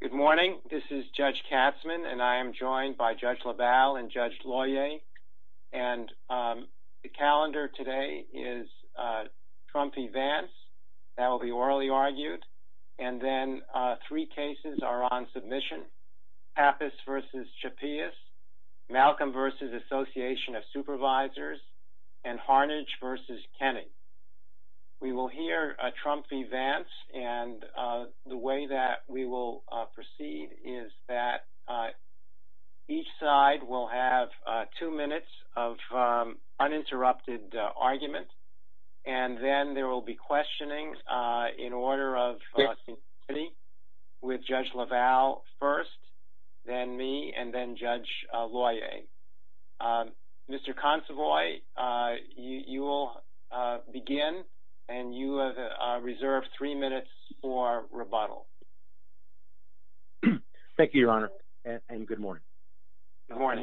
Good morning. This is Judge Katzmann and I am joined by Judge LaValle and Judge LaWyer. and the calendar today is Trump v. Vance. That will be orally argued and then three cases are on submission. Pappas v. Chappeas, Malcolm v. Association of Supervisors and Harnage v. Kenney. We will hear Trump v. Vance and the way that we will proceed is that each side will have two minutes of uninterrupted argument and then there will be questioning in order of with Judge LaValle first, then me and then Judge LaWyer. Mr. Consovoy, you will begin and you have reserved three minutes for rebuttal. Judge LaValle Thank you, Your Honor, and good morning. It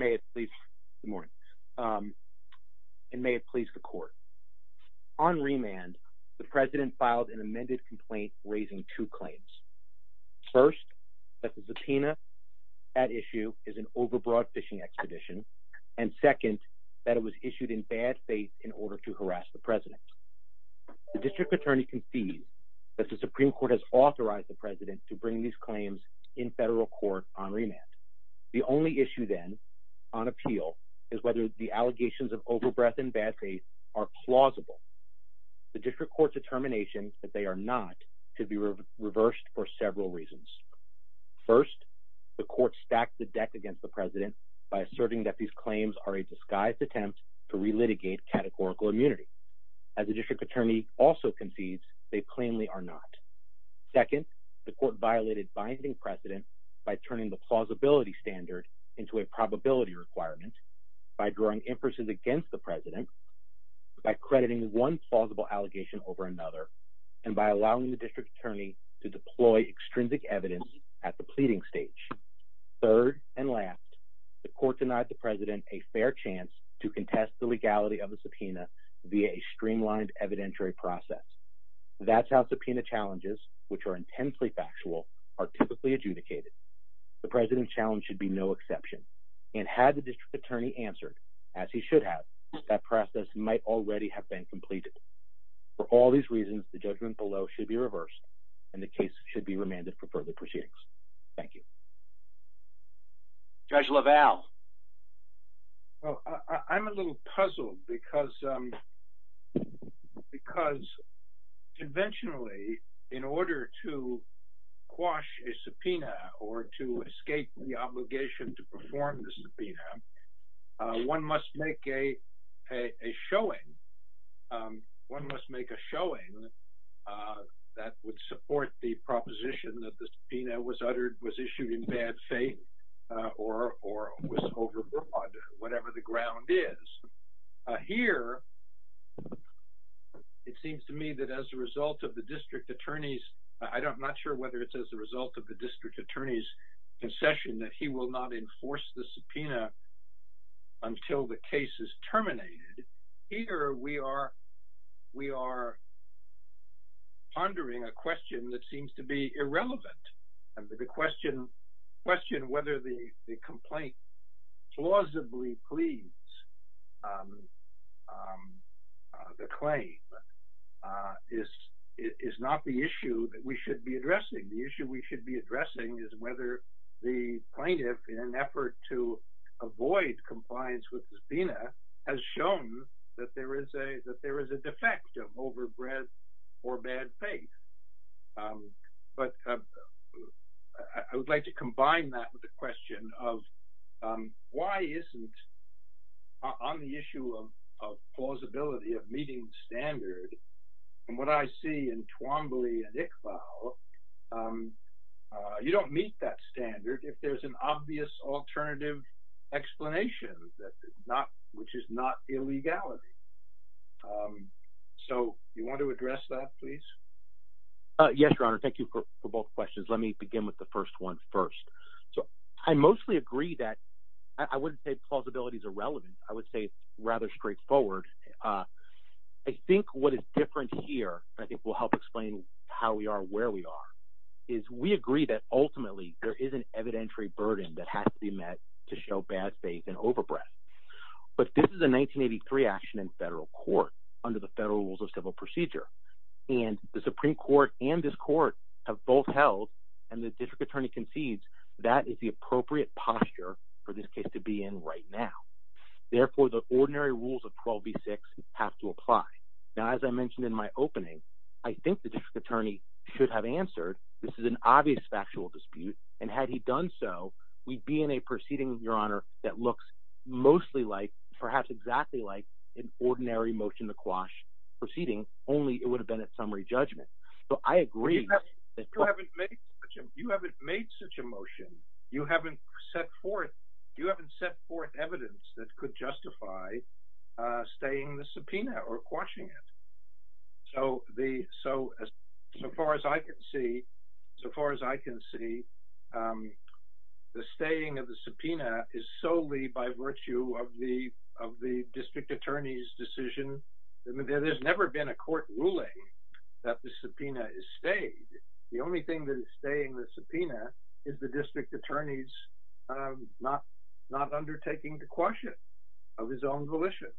may have pleased the court. On remand, the President filed an amended complaint raising two claims. First, that the subpoena at issue is an overbroad fishing expedition and second, that it was issued in bad faith in order to harass the President. The District Attorney concedes that the Supreme Court has authorized the President to bring these claims in federal court on remand. The only issue then on appeal is whether the allegations of overbreath and bad faith are plausible. The District Court's determination that they are not could be reversed for several reasons. First, the Court stacked the deck against the President by asserting that these claims are a disguised attempt to relitigate categorical immunity. As the District Attorney also concedes, they plainly are not. Second, the Court violated binding precedent by turning the plausibility standard into a probability requirement, by drawing emphasis against the President, by crediting one plausible allegation over another, and by allowing the District Attorney to deploy extrinsic evidence at the pleading stage. Third, and last, the Court denied the President a fair chance to contest the legality of the subpoena via a streamlined evidentiary process. That's how subpoena challenges, which are intensely factual, are typically adjudicated. The President's challenge should be no exception. And had the District Attorney answered, as he should have, that process might already have been completed. For all these reasons, the judgment below should be reversed, and the case should be remanded for further proceedings. Thank you. Judge LaValle. Well, I'm a little puzzled because, um, because conventionally, in order to quash a subpoena, or to escape the obligation to perform the subpoena, one must make a, a showing, one must make a showing that would support the proposition that the subpoena was uttered, was issued in bad faith, uh, or, or was overbroad, whatever the ground is. Uh, here, it seems to me that as a result of the District Attorney's, I don't, I'm not sure whether it's as a result of the District Attorney's concession that he will not enforce the subpoena until the case is terminated. Here, we are, we are pondering a question that seems to be irrelevant, and the question, question whether the complaint plausibly pleads, um, um, the claim, uh, is, is not the issue that we should be addressing. The issue we should be addressing is whether the plaintiff, in an effort to avoid compliance with the subpoena, has shown that there is a, that there is a defect of overbreadth or bad faith. Um, but, uh, I, I would like to combine that with the question of, um, why isn't on the issue of, of plausibility of meeting standard, and what I see in Twombly and Iqbal, um, uh, you don't meet that standard if there's an obvious alternative explanation that is not, which is not illegality. Um, so, you want to address that, please? Uh, yes, Your Honor. Thank you for, for both questions. Let me begin with the first one first. So, I mostly agree that, I wouldn't say plausibility is irrelevant. I would say rather straightforward. Uh, I think what is different here, I think will help explain how we are where we are, is we agree that ultimately there is an evidentiary burden that has to be met to show bad faith and overbreadth. But this is a 1983 action in federal court, under the federal rules of civil procedure. And the Supreme Court and this court have both held, and the district attorney concedes, that is the appropriate posture for this case to be in right now. Therefore, the ordinary rules of 12b6 have to apply. Now, as I mentioned in my opening, I think the district attorney should have answered, this is an obvious factual dispute, and had he done so, we'd be in a proceeding, Your Honor, that looks mostly like, perhaps exactly like, an ordinary motion to quash proceeding, only it would have been a summary judgment. So, I agree. You haven't made such a motion. You haven't set forth, you haven't set forth evidence that could justify, uh, staying the subpoena or quashing it. So the, so, so far as I can see, so far as I can see, um, the staying of the subpoena is solely by virtue of the, of the district attorney's decision. I mean, there's never been a court ruling that the subpoena is stayed. The only thing that is staying the subpoena is the district attorney's, not, not undertaking the question of his own volition.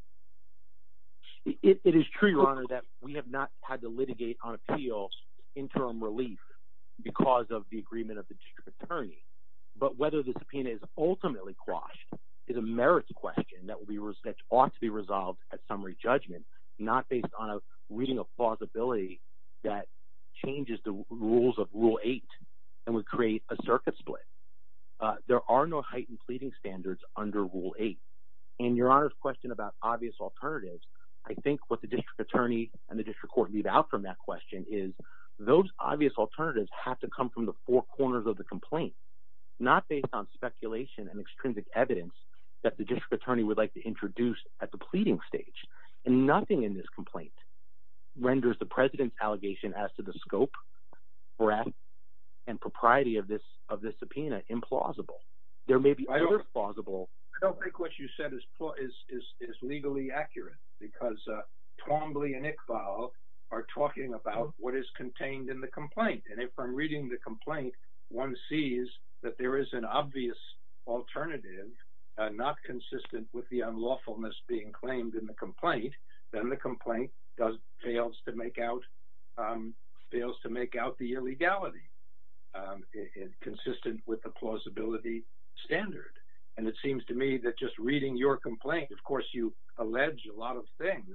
It is true, Your Honor, that we have not had to litigate on appeals, interim relief, because of the agreement of the district attorney, but whether the subpoena is ultimately quashed is a merits question that will be, ought to be resolved at summary judgment, not based on a reading of plausibility that changes the rules of rule eight, and would create a circuit split. There are no heightened pleading standards under rule eight and Your Honor's question about obvious alternatives. I think what the district attorney and the district court leave out from that question is those obvious alternatives have to come from the four corners of the complaint, not based on speculation and extrinsic evidence that the district attorney would like to introduce at the pleading stage. And nothing in this complaint renders the president's allegation as to the scope, breadth, and propriety of this, of this subpoena implausible. There may be other plausible. I don't think what you said is, is, is, is legally accurate, because Twombly and Iqbal are talking about what is contained in the complaint. And if I'm reading the complaint, one sees that there is an obvious alternative, not consistent with the unlawfulness being claimed in the complaint, then the complaint does, fails to make out, fails to make out the illegality consistent with the plausibility standard. And it seems to me that just reading your complaint, of course, you allege a lot of things,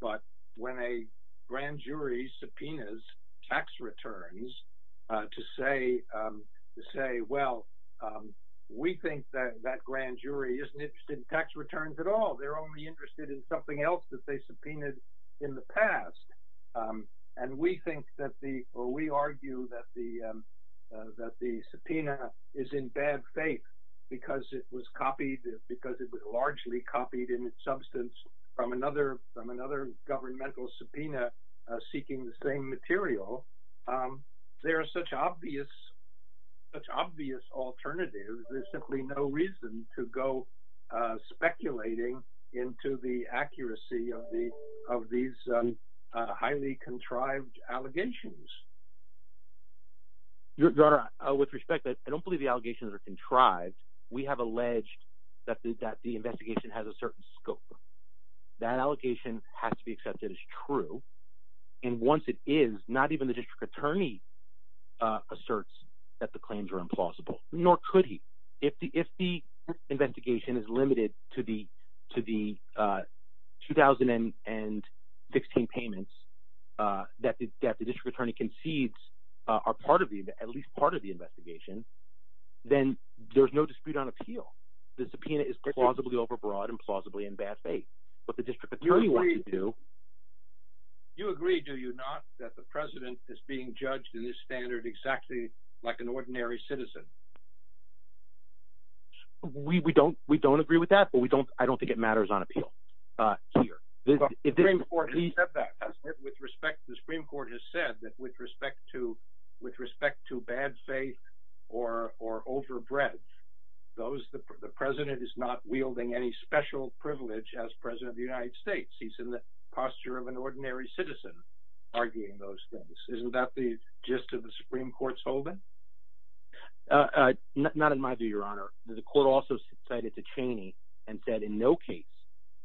but when a grand jury subpoenas tax returns to say, to say, well, we think that that grand jury isn't interested in tax returns at all. They're only interested in something else that they subpoenaed in the past. And we think that the, or we argue that the, that the subpoena is in bad faith because it was copied, because it was largely copied in its substance from another, from another governmental subpoena seeking the material. There are such obvious, such obvious alternatives. There's simply no reason to go speculating into the accuracy of the, of these highly contrived allegations. With respect, I don't believe the allegations are contrived. We have alleged that the investigation has a certain scope. That allegation has to be accepted as true. And once it is, not even the district attorney asserts that the claims are implausible, nor could he. If the investigation is limited to the, to the 2016 payments that the district attorney concedes are part of the, at least part of the investigation, then there's no dispute on appeal. The subpoena is plausibly overbroad and plausibly in bad faith, but the district attorney wants to do. You agree. Do you not that the president is being judged in this standard exactly like an ordinary citizen? We, we don't, we don't agree with that, but we don't, I don't think it matters on appeal. Uh, with respect to the Supreme court has said that with special privilege as president of the United States, he's in the posture of an ordinary citizen arguing those things. Isn't that the gist of the Supreme court's holding? Not in my view, your honor, the court also cited to Cheney and said in no case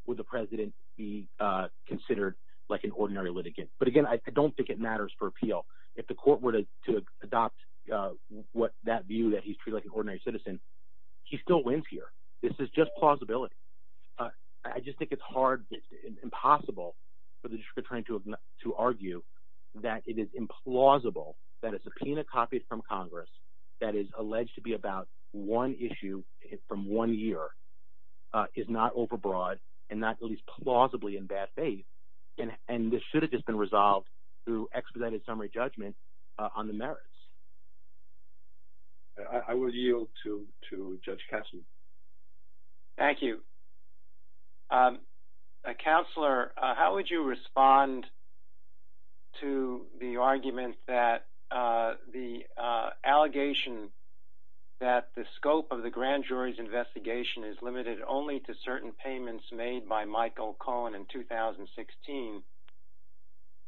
would the president be considered like an ordinary litigant. But again, I don't think it matters for appeal. If the court were to adopt, uh, what that view that he's treated like an ordinary citizen, he still wins here. This is just plausibility. Uh, I just think it's hard. It's impossible for the district attorney to, to argue that it is implausible that a subpoena copies from Congress that is alleged to be about one issue from one year, uh, is not overbroad and not at least plausibly in bad faith. And, and this should have just been resolved through expedited summary judgment on the merits. I would yield to, to judge. Thank you. Um, uh, counselor, how would you respond to the argument that, uh, the, uh, allegation that the scope of the grand jury's investigation is limited only to certain payments made by Michael Cohen in 2016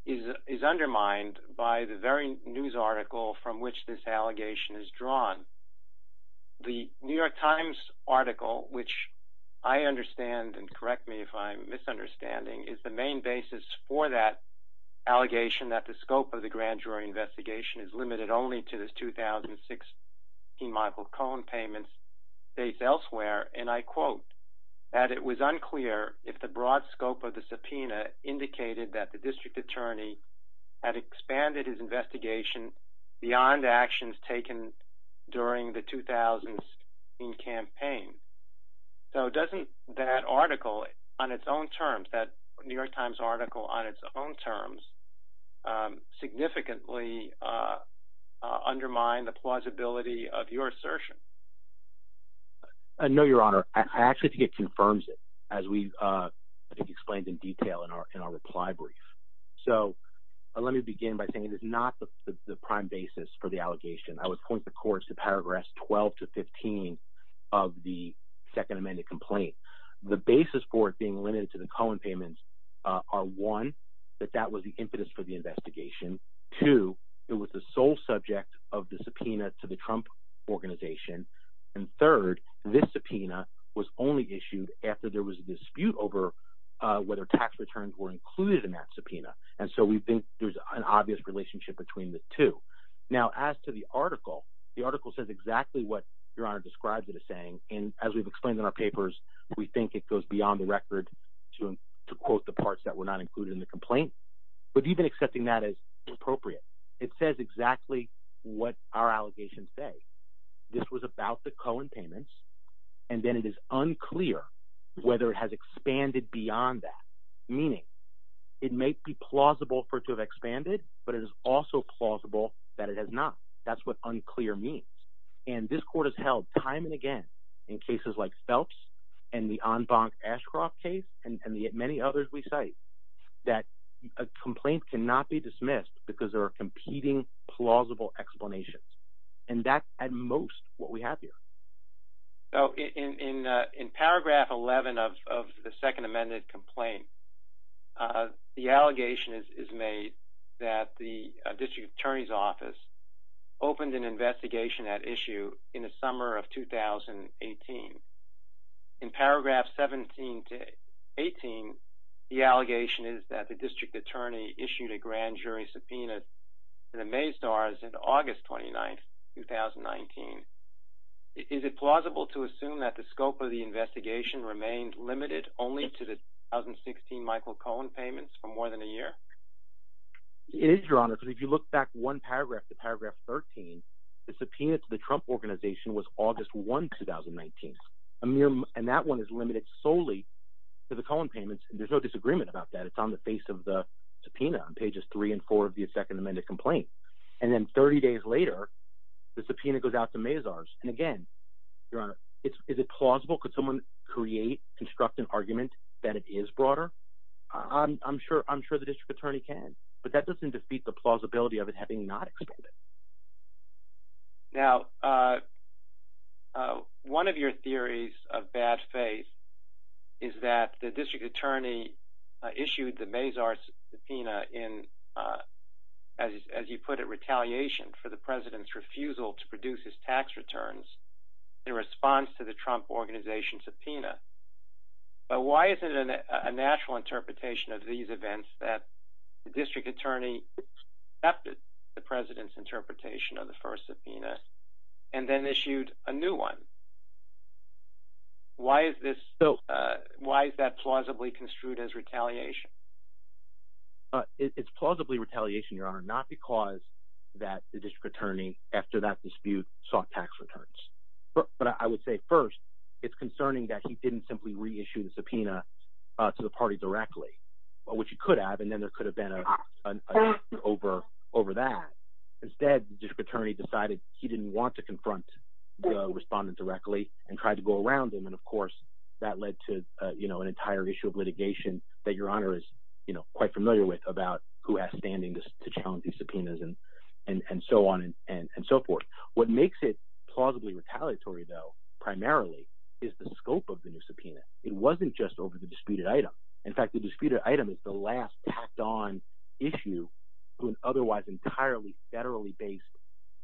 is, is undermined by the very news article from which this allegation is drawn. The New York times article, which I understand and correct me if I'm misunderstanding is the main basis for that allegation that the scope of the grand jury investigation is limited only to this 2006 Michael Cohen payments based elsewhere. And I quote that it was unclear if the broad scope of the subpoena indicated that the district attorney had expanded his investigation beyond the actions taken during the 2000s in campaign. So doesn't that article on its own terms that New York times article on its own terms, um, significantly, uh, uh, undermined the plausibility of your assertion. I know your honor, I actually think it confirms it as we, uh, explained in detail in our, in our reply brief. So let me begin by saying it is not the prime basis for the allegation. I would point the courts to paragraph 12 to 15 of the second amended complaint. The basis for it being limited to the Colin payments, uh, are one that that was the impetus for the investigation to, it was the sole subject of the subpoena to the Trump organization. And third, this subpoena was only issued after there was a dispute over, uh, whether tax returns were included in that subpoena. And so we think there's an obvious relationship between the two. Now, as to the article, the article says exactly what your honor describes it as saying. And as we've explained in our papers, we think it goes beyond the record to quote the parts that were not included in the complaint, but even accepting that as appropriate, it says exactly what our Colin payments. And then it is unclear whether it has expanded beyond that. Meaning it may be plausible for it to have expanded, but it is also plausible that it has not. That's what unclear means. And this court has held time and again in cases like Phelps and the on bonk Ashcroft case and the many others we cite that a complaint cannot be dismissed because there are competing plausible explanations. And that's at most what we have here. So in, uh, in paragraph 11 of, of the second amended complaint, uh, the allegation is made that the district attorney's office opened an investigation at issue in the summer of 2018. In paragraph 17 to 18, the allegation is that the district attorney issued a grand jury subpoena to the May stars in August 29th, 2019. Is it plausible to assume that the scope of the investigation remained limited only to the 2016 Michael Cohen payments for more than a year? It is your honor. Cause if you look back one paragraph to paragraph 13, the subpoena to the Trump organization was August 1st, 2019. And that one is limited solely to the Colin payments. And there's no disagreement about that. It's on the face of the pages three and four of the second amended complaint. And then 30 days later, the subpoena goes out to Mays ours. And again, your honor, it's, is it plausible? Could someone create, construct an argument that it is broader? I'm sure, I'm sure the district attorney can, but that doesn't defeat the plausibility of it having not explained it. Now, uh, uh, one of your theories of bad faith is that the district attorney issued the Mays ours subpoena in, uh, as you put it, retaliation for the president's refusal to produce his tax returns in response to the Trump organization subpoena. But why is it a natural interpretation of these events that the district attorney accepted the president's interpretation of the first subpoena and then issued a new one? Why is this? So, uh, why is that plausibly construed as retaliation? Uh, it's plausibly retaliation, your honor, not because that the district attorney after that dispute soft tax returns. But I would say first it's concerning that he didn't simply reissue the subpoena to the party directly, but what you could have, and then there could have been a, an over, over that instead, the district attorney decided he didn't want to confront the respondent directly and tried to go around them. And of course that led to, uh, you know, an entire issue of litigation that your honor is quite familiar with about who has standing to challenge these subpoenas and, and, and so on and so forth. What makes it plausibly retaliatory though, primarily is the scope of the new subpoena. It wasn't just over the disputed item. In fact, the disputed item is the last tacked on issue to an otherwise entirely federally based,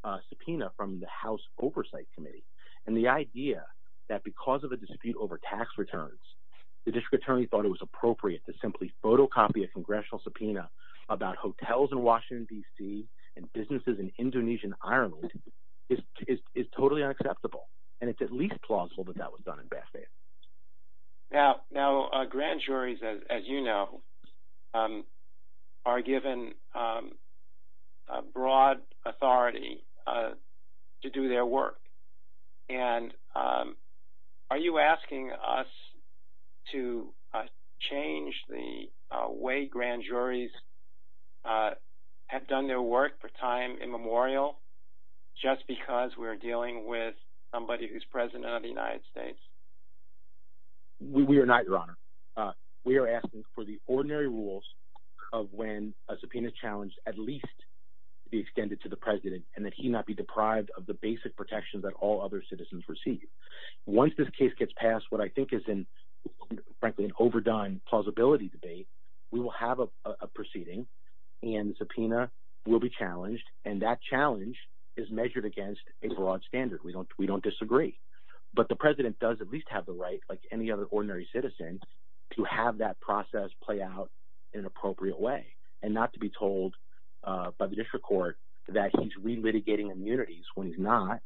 uh, subpoena from the house oversight committee. And the idea that because of the dispute over tax returns, the district attorney thought it was appropriate to simply photocopy a congressional subpoena about hotels in Washington DC and businesses in Indonesian Ireland is, is, is totally unacceptable. And it's at least plausible that that was done in Bethlehem. Yeah. Now, uh, grand juries, as you know, um, are given, um, broad authority, uh, to do their work. And, um, are you asking us to, uh, change the way grand juries, uh, have done their work for time immemorial just because we're dealing with somebody who's president of the United States? We are not your honor. Uh, we are asking for the ordinary rules of when a subpoena is challenged, at least the extended to the president and that he not be deprived of the basic protections that all other citizens receive. Once this case gets passed, what I think is in frankly, an overdone plausibility debate, we will have a proceeding and subpoena will be challenged. And that challenge is measured against a broad standard. We don't, we don't disagree, but the president does at the right, like any other ordinary citizen to have that process play out in an appropriate way and not to be told, uh, by the district court that he's re-litigating immunities when he's not,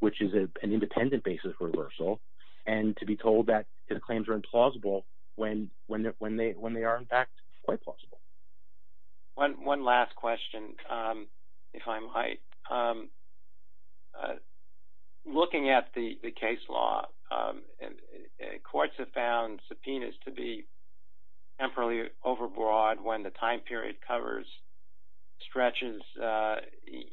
which is an independent basis reversal. And to be told that his claims are implausible when, when, when they, when they are in fact quite plausible. One last question. Um, if I might, um, uh, looking at the case law, um, and courts have found subpoenas to be temporally overbroad when the time period covers stretches, uh,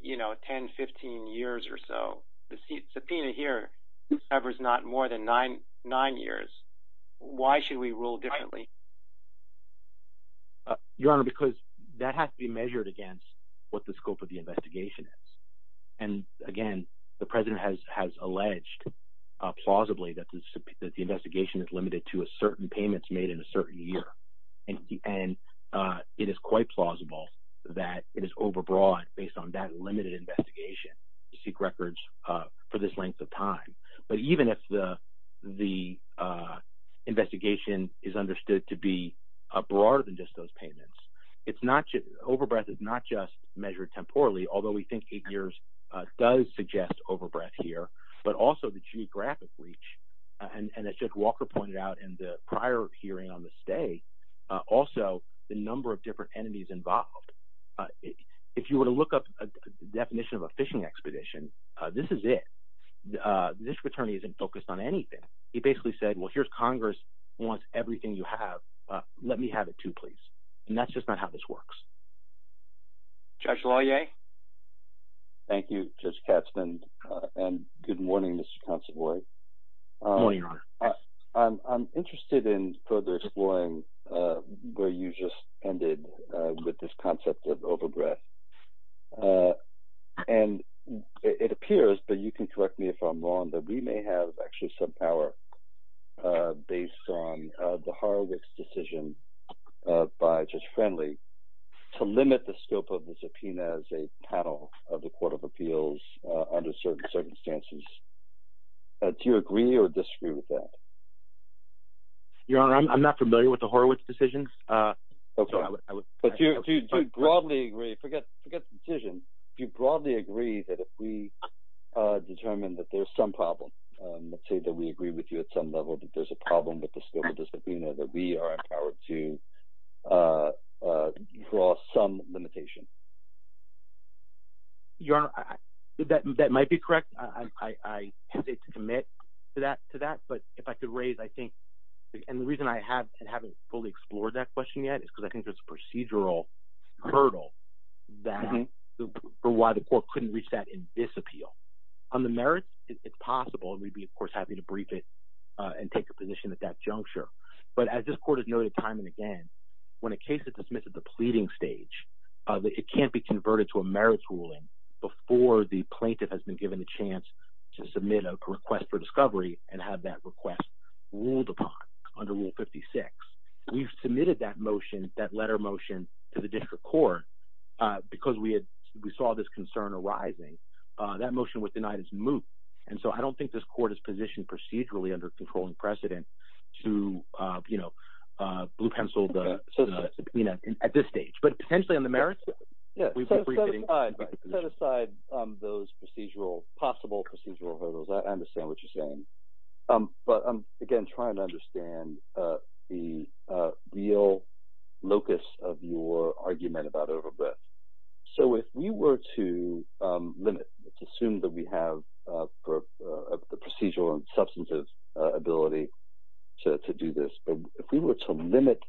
you know, 10, 15 years or so the seat subpoena here covers not more than nine, nine years. Why should we rule differently? Your honor, because that has to be measured against what the scope of the investigation is. And again, the president has, has alleged, uh, plausibly that the, that the investigation is limited to a certain payments made in a certain year. And, and, uh, it is quite plausible that it is overbroad based on that limited investigation to seek records, uh, for this length of time. But even if the, the, uh, investigation is understood to be a broader than just those poorly, although we think eight years, uh, does suggest overbreath here, but also the geographic reach. Uh, and, and it's just Walker pointed out in the prior hearing on the stay, uh, also the number of different enemies involved. Uh, if you were to look up a definition of a fishing expedition, uh, this is it. Uh, this attorney isn't focused on anything. He basically said, well, here's Congress wants everything you have. Uh, let me have it too, please. And that's just how this works. Judge lawyer. Thank you. Judge Katzman. Uh, and good morning, Mr. Constable. Uh, I'm, I'm interested in further exploring, uh, where you just ended, uh, with this concept of overbreath, uh, and it appears, but you can correct me if I'm wrong, but we may have actually some power, uh, based on, uh, the Harvard's decision, uh, by just friendly to limit the scope of the subpoena as a panel of the court of appeals, uh, under certain circumstances. Uh, do you agree or disagree with that? Yeah, I'm not familiar with the Horowitz decisions. Uh, okay. I would broadly agree. Forget, forget the decision. Do you broadly agree that if we, uh, determine that there's some problem, um, let's say that we agree with you at some level, that there's a problem with the scope of the subpoena that we are empowered to, uh, uh, draw some limitation. You're that, that might be correct. I, I, I have to commit to that, to that, but if I could raise, I think, and the reason I had, I haven't fully explored that question yet is because I think there's a procedural hurdle that for why the court couldn't reach that in this appeal on the merits it's possible. And we'd be, of course, happy to brief it, uh, and take a position at that juncture. But as this court has noted time and again, when a case is dismissed at the pleading stage, uh, that it can't be converted to a merits ruling before the plaintiff has been given the chance to submit a request for discovery and have that request ruled upon under rule 56, we've submitted that motion, that letter motion to the district court, uh, because we had, we saw this concern arising, uh, that motion was denied as moot. And so I don't think this court is positioned procedurally under controlling precedent to, uh, you know, uh, blue pencil, the subpoena at this stage, but potentially on the merits. Set aside, um, those procedural possible procedural hurdles. I understand what you're talking about. So if you were to, um, limit, let's assume that we have, uh, for, uh, the procedural and substantive, uh, ability to do this, but if we were to limit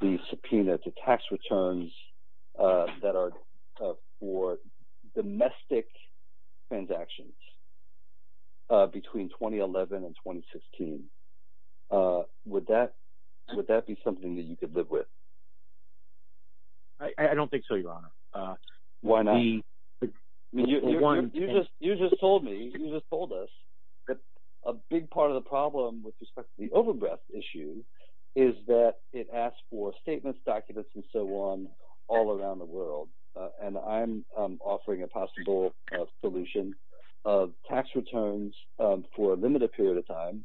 the subpoena to tax returns, uh, that are, uh, for domestic transactions, uh, between 2011 and 2016, uh, would that, would that be something that you could live with? I don't think so, your honor. Uh, why not? You just told me, you just told us that a big part of the problem with respect to the overgrowth issue is that it asks for statements, documents, and so on all around the world. And I'm offering a possible solution of tax returns, um, for a limited period of time.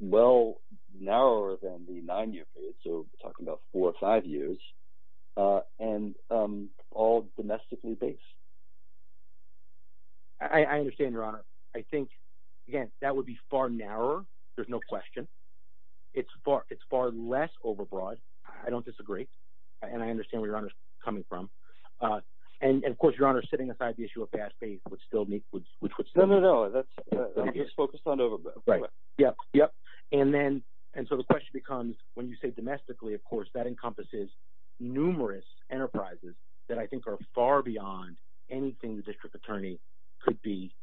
Well, narrower than the nine year period. So we're talking about four or five years, uh, and, um, all domestically based. I understand your honor. I think again, that would be far narrower. There's no question. It's far, it's far less overbroad. I don't disagree. And I understand where you're coming from. Uh, and of course your honor sitting aside the issue of fast paced, which still needs, which would still, no, no, no. Yep. Yep. And then, and so the question becomes when you say domestically, of course, that encompasses numerous enterprises that I think are far beyond anything. The district attorney could be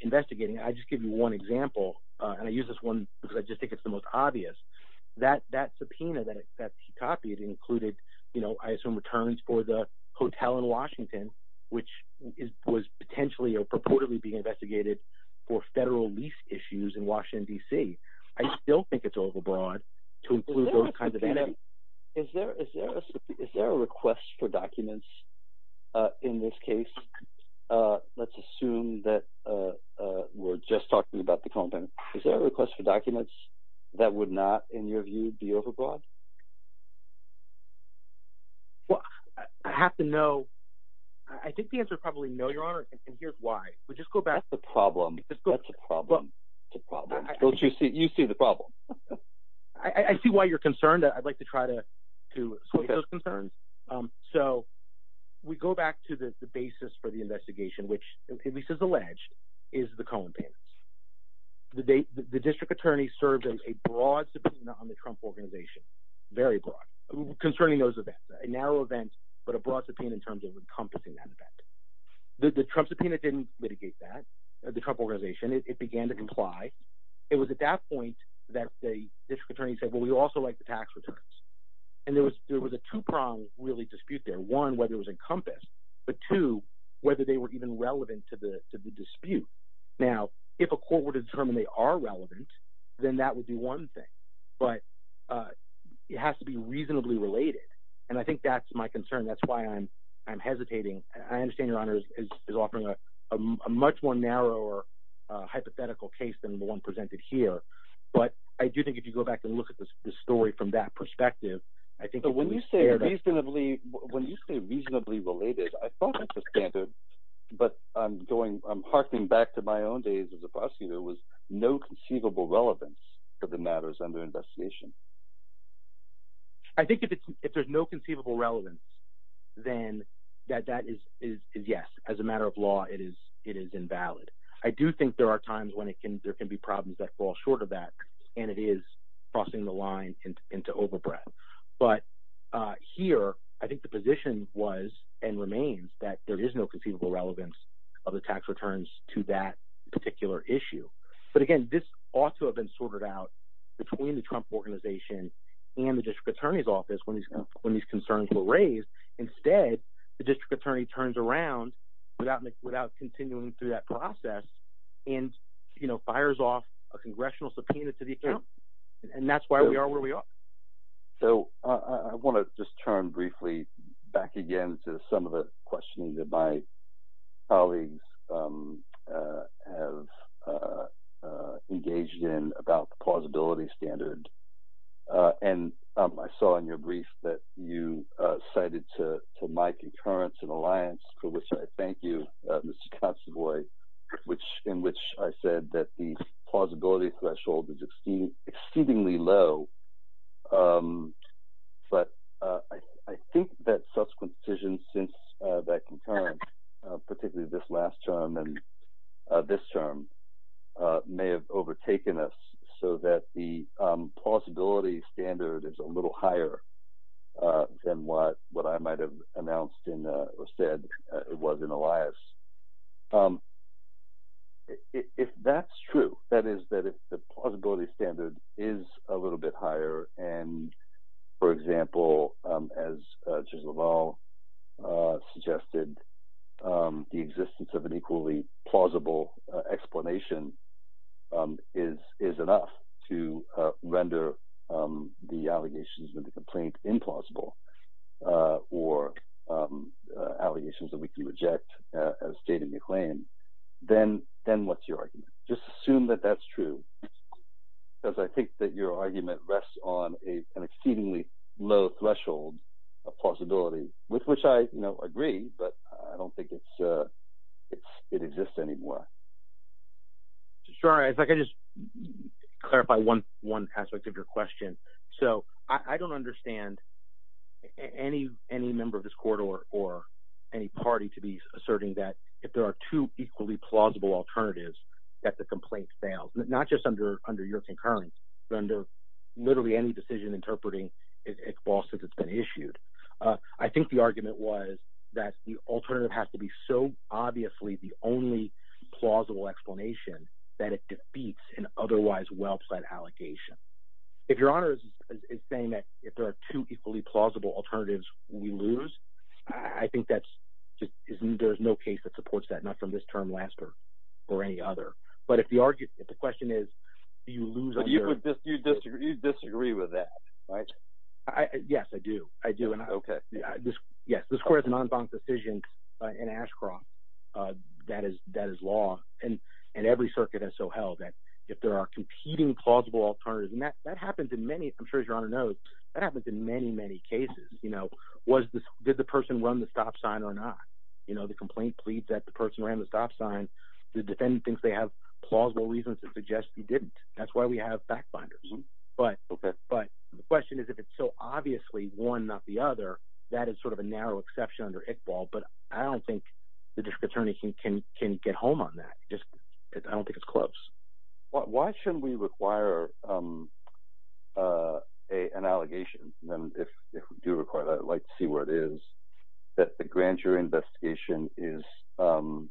investigating. I just give you one example. Uh, and I use this one because I just think it's the most obvious that, that subpoena that he copied included, you know, some returns for the hotel in Washington, which is, was potentially or purportedly being investigated for federal lease issues in Washington, DC. I still think it's overbroad to include those kinds of things. Is there, is there, is there a request for documents, uh, in this case? Uh, let's assume that, uh, uh, we're just talking about the content. Is there a request for documents that would not, in your view, be overbroad? Well, I have to know. I think the answer is probably no, your honor. And here's why we just go back to the problem. Let's go to the problem. You see the problem. I see why you're concerned. I'd like to try to, to those concerns. Um, so we go back to the basis for the investigation, which at least as alleged is the column payments, the date, the district attorney served as a broad organization, very broad concerning those events, narrow events, but a broad subpoena in terms of encompassing that event, the Trump subpoena didn't litigate that the Trump organization, it began to comply. It was at that point that the district attorney said, well, we also like the tax returns. And there was, there was a two prong really dispute there. One, whether it was encompassed, but two, whether they were even relevant to the dispute. Now, if a court were to determine they are relevant, then that would be one thing, but, uh, it has to be reasonably related. And I think that's my concern. That's why I'm, I'm hesitating. I understand your honors is offering a, a much more narrow or a hypothetical case than the one presented here. But I do think if you go back and look at this story from that perspective, I think when you say reasonably, when you say reasonably related, I thought that's a standard, but I'm going, I'm harking back to my own days as a prosecutor was no conceivable relevance to the matters under investigation. I think if it's, if there's no conceivable relevance, then that, that is, is, is yes. As a matter of law, it is, it is invalid. I do think there are times when it can, there can be problems that fall short of that and it is crossing the line into overbread. But, uh, here, I think the position was and remains that there is no conceivable relevance of the tax returns to that particular issue. But again, this ought to have been sorted out between the Trump organization and the district attorney's office when these, when these concerns were raised. Instead, the district attorney turns around without, without continuing through that process and, you know, fires off a congressional subpoena to the So I want to just turn briefly back again to some of the questioning that my colleagues, um, uh, have, uh, uh, engaged in about the plausibility standard. Uh, and, um, I saw in your brief that you, uh, cited to, to my concurrence and alliance for which I thank you, uh, Mr. Consovoy, which, in which I said that the plausibility threshold is exceedingly low. Um, but, uh, I, I think that subsequent decisions since, uh, that concurrent, uh, particularly this last term and, uh, this term, uh, may have overtaken us so that the, um, plausibility standard is a little higher, uh, than what, what I might've announced in, uh, or said it was in the lives. Um, if that's true, that is that it's the plausibility standard is a little bit higher. And for example, um, as, uh, just as well, uh, suggested, um, the existence of an equally plausible explanation, um, is, is enough to, uh, render, um, the allegations of the complaint implausible, uh, or, um, uh, allegations that we can reject, uh, as stated in the claim, then, then what's your argument? Just assume that that's true because I think that your argument rests on a, an exceedingly low threshold of possibility with which I, you know, agree, but I don't think it's, uh, it's, it exists anymore. Sorry, if I can just clarify one, aspect of your question. So I don't understand any, any member of this court or, or any party to be asserting that if there are two equally plausible alternatives that the complaint fails, not just under, under your concurrence, but under literally any decision interpreting it's false since it's been issued. Uh, I think the argument was that the alternative has to be so obviously the only plausible explanation that it defeats an otherwise well-set allegation. If your honor is saying that if there are two equally plausible alternatives, we lose. I think that's just, there's no case that supports that, not from this term last year or any other, but if the argument, if the question is, do you lose? You disagree with that, right? Yes, I do. I do. And I, okay. Yeah. The square is a non-bond decision in Ashcroft. Uh, that is, that is law and, and every circuit has so held that if there are competing, plausible alternatives, and that, that happens in many, I'm sure as you're on a note, that happens in many, many cases, you know, was this, did the person run the stop sign or not? You know, the complaint pleads that the person ran the stop sign to defend things. They have plausible reasons to suggest you didn't. That's why we have back binders, but, but the question is if it's so obviously one, not the other, that is sort of a narrow exception under Iqbal, but I don't think the district attorney can, can, can get home on that. Just, I don't think it's close. Why shouldn't we require, um, uh, a, an allegation. And then if, if we do require that, I'd like to see where it is that the grand jury investigation is, um,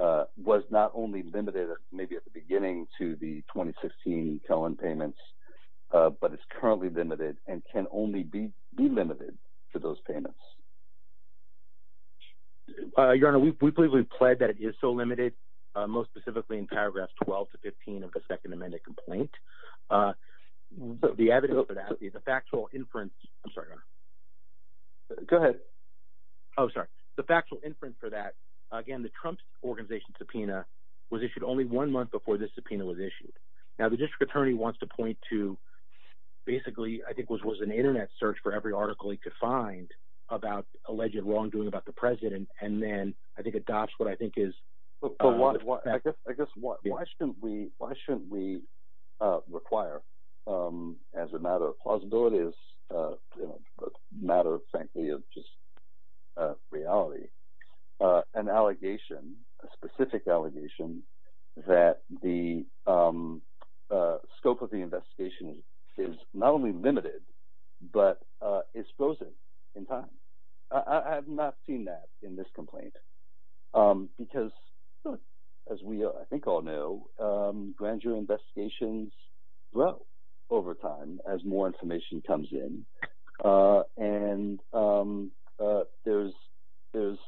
uh, was not only limited maybe at the beginning to the 2016 Calen payments, uh, but it's currently limited and can only be, be limited to those payments. Uh, your honor, we, we believe we pled that it is so limited, uh, most specifically in paragraphs 12 to 15 of the second amended complaint. Uh, the evidence for that, the factual inference, I'm sorry, go ahead. Oh, sorry. The factual inference for that, again, the Trump organization subpoena was issued only one month before this subpoena was issued. Now the district attorney wants to point to basically, I think was, was an internet search for every article he could find about alleged wrongdoing about the president. And then I think adopts what I think is, I guess, I guess why shouldn't we, why shouldn't we, uh, require, um, as a matter of possibilities, uh, matter of frankly, of just, uh, reality, uh, an allegation, a specific allegation that the, um, uh, scope of the investigation is not only limited, but, uh, it's frozen in time. I have not seen that in this complaint. Um, because as we, I think all know, um, grand jury investigations grow over time as more information comes in. Uh, and, um, uh, there's, there's,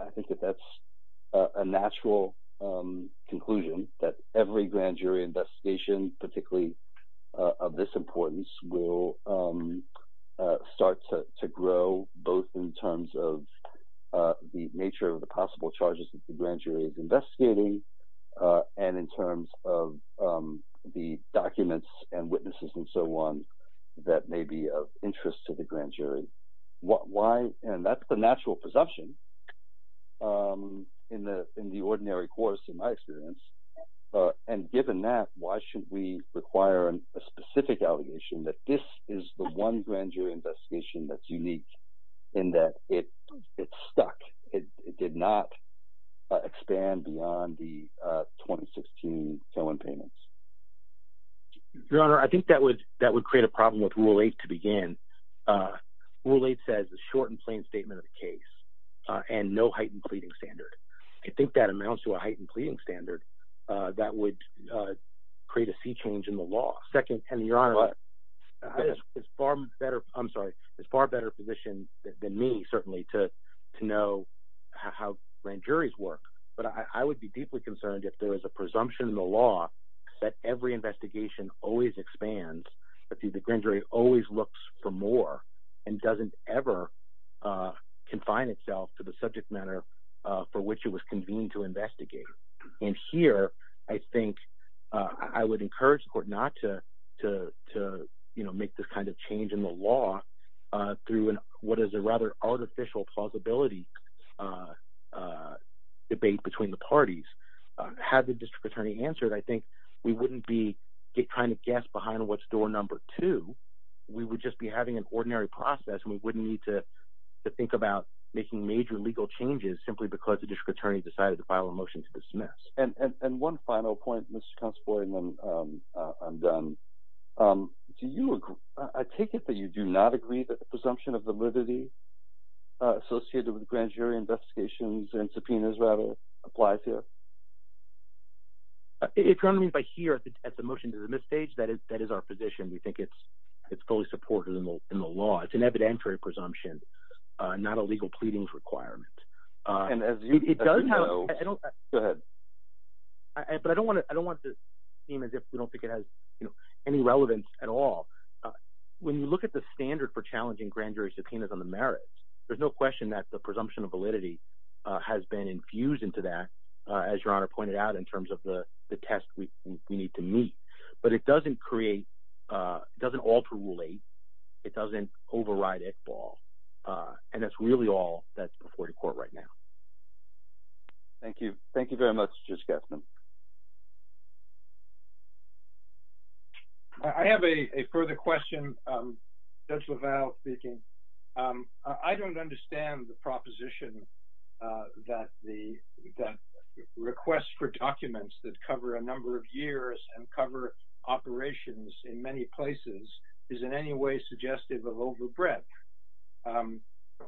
I think that that's a natural, um, conclusion that every grand jury investigation, particularly of this importance will, um, uh, to grow both in terms of, uh, the nature of the possible charges that the grand jury is investigating, uh, and in terms of, um, the documents and witnesses and so on that may be of interest to the grand jury. What, why, and that's the natural perception, um, in the, in the ordinary course, in my experience, uh, and given that, why should we need a grand jury investigation that's unique in that? It it's stuck. It did not expand beyond the, uh, 2016 phone payments. No, I think that would, that would create a problem with rule eight to begin. Uh, well, it says the short and plain statement of the case, uh, and no heightened pleading standard. I think that amounts to a heightened pleading standard, uh, that would, uh, create a sea change in the law. Second, and the honor is far better. I'm sorry. It's far better position than me, certainly to, to know how grand juries work, but I would be deeply concerned if there was a presumption in the law that every investigation always expands. If you, the grand jury always looks for more and doesn't ever, uh, confine itself to the subject matter, uh, for which it was convened to investigate. And here, I think, uh, I would encourage the court not to, to, to, you know, make this kind of change in the law, uh, through an, what is a rather artificial plausibility, uh, uh, debate between the parties, uh, had the district attorney answered. I think we wouldn't be trying to guess behind what's door number two. We would just be having an ordinary process and we wouldn't need to think about making major legal changes simply because the district attorney decided to file a motion to dismiss. And one final point, Mr. Constable, and then, um, uh, I'm done. Um, do you agree? I take it that you do not agree that the presumption of validity, uh, associated with grand jury investigations and subpoenas rattle apply to it. It currently by here at the motion to the misstage that is, that is our position. We think it's, it's fully supported in the law. It's an evidentiary presumption, uh, not a legal pleadings requirement. Uh, and as it does have, I don't, but I don't want to, I don't want it to seem as if we don't think it has any relevance at all. Uh, when you look at the standard for challenging grand jury subpoenas on the merits, there's no question that the presumption of validity, uh, has been infused into that, uh, as your honor pointed out in terms of the test we need to meet, but it doesn't create, uh, doesn't alter rule eight. It doesn't override it ball. Uh, and it's really all that's before the court right now. Thank you. Thank you very much. Just get them. I have a further question. Um, that's without speaking. Um, I don't understand the proposition, uh, that the, that requests for documents that cover a number of years and cover operations in many places is in any way suggestive of overbreadth. Um,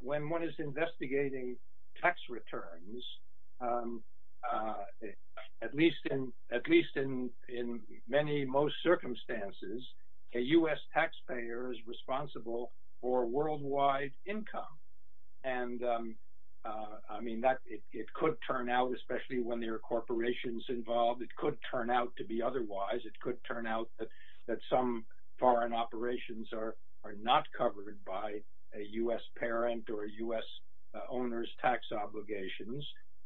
when one is investigating tax returns, um, uh, at least in, at least in, in many most circumstances, a U S taxpayer is responsible for worldwide income. And, um, uh, I mean that it could turn out, especially when there are corporations involved, it could turn out to be otherwise. It could turn out that, that some foreign operations are, are not covered by a U S parent or a U S owners tax obligations.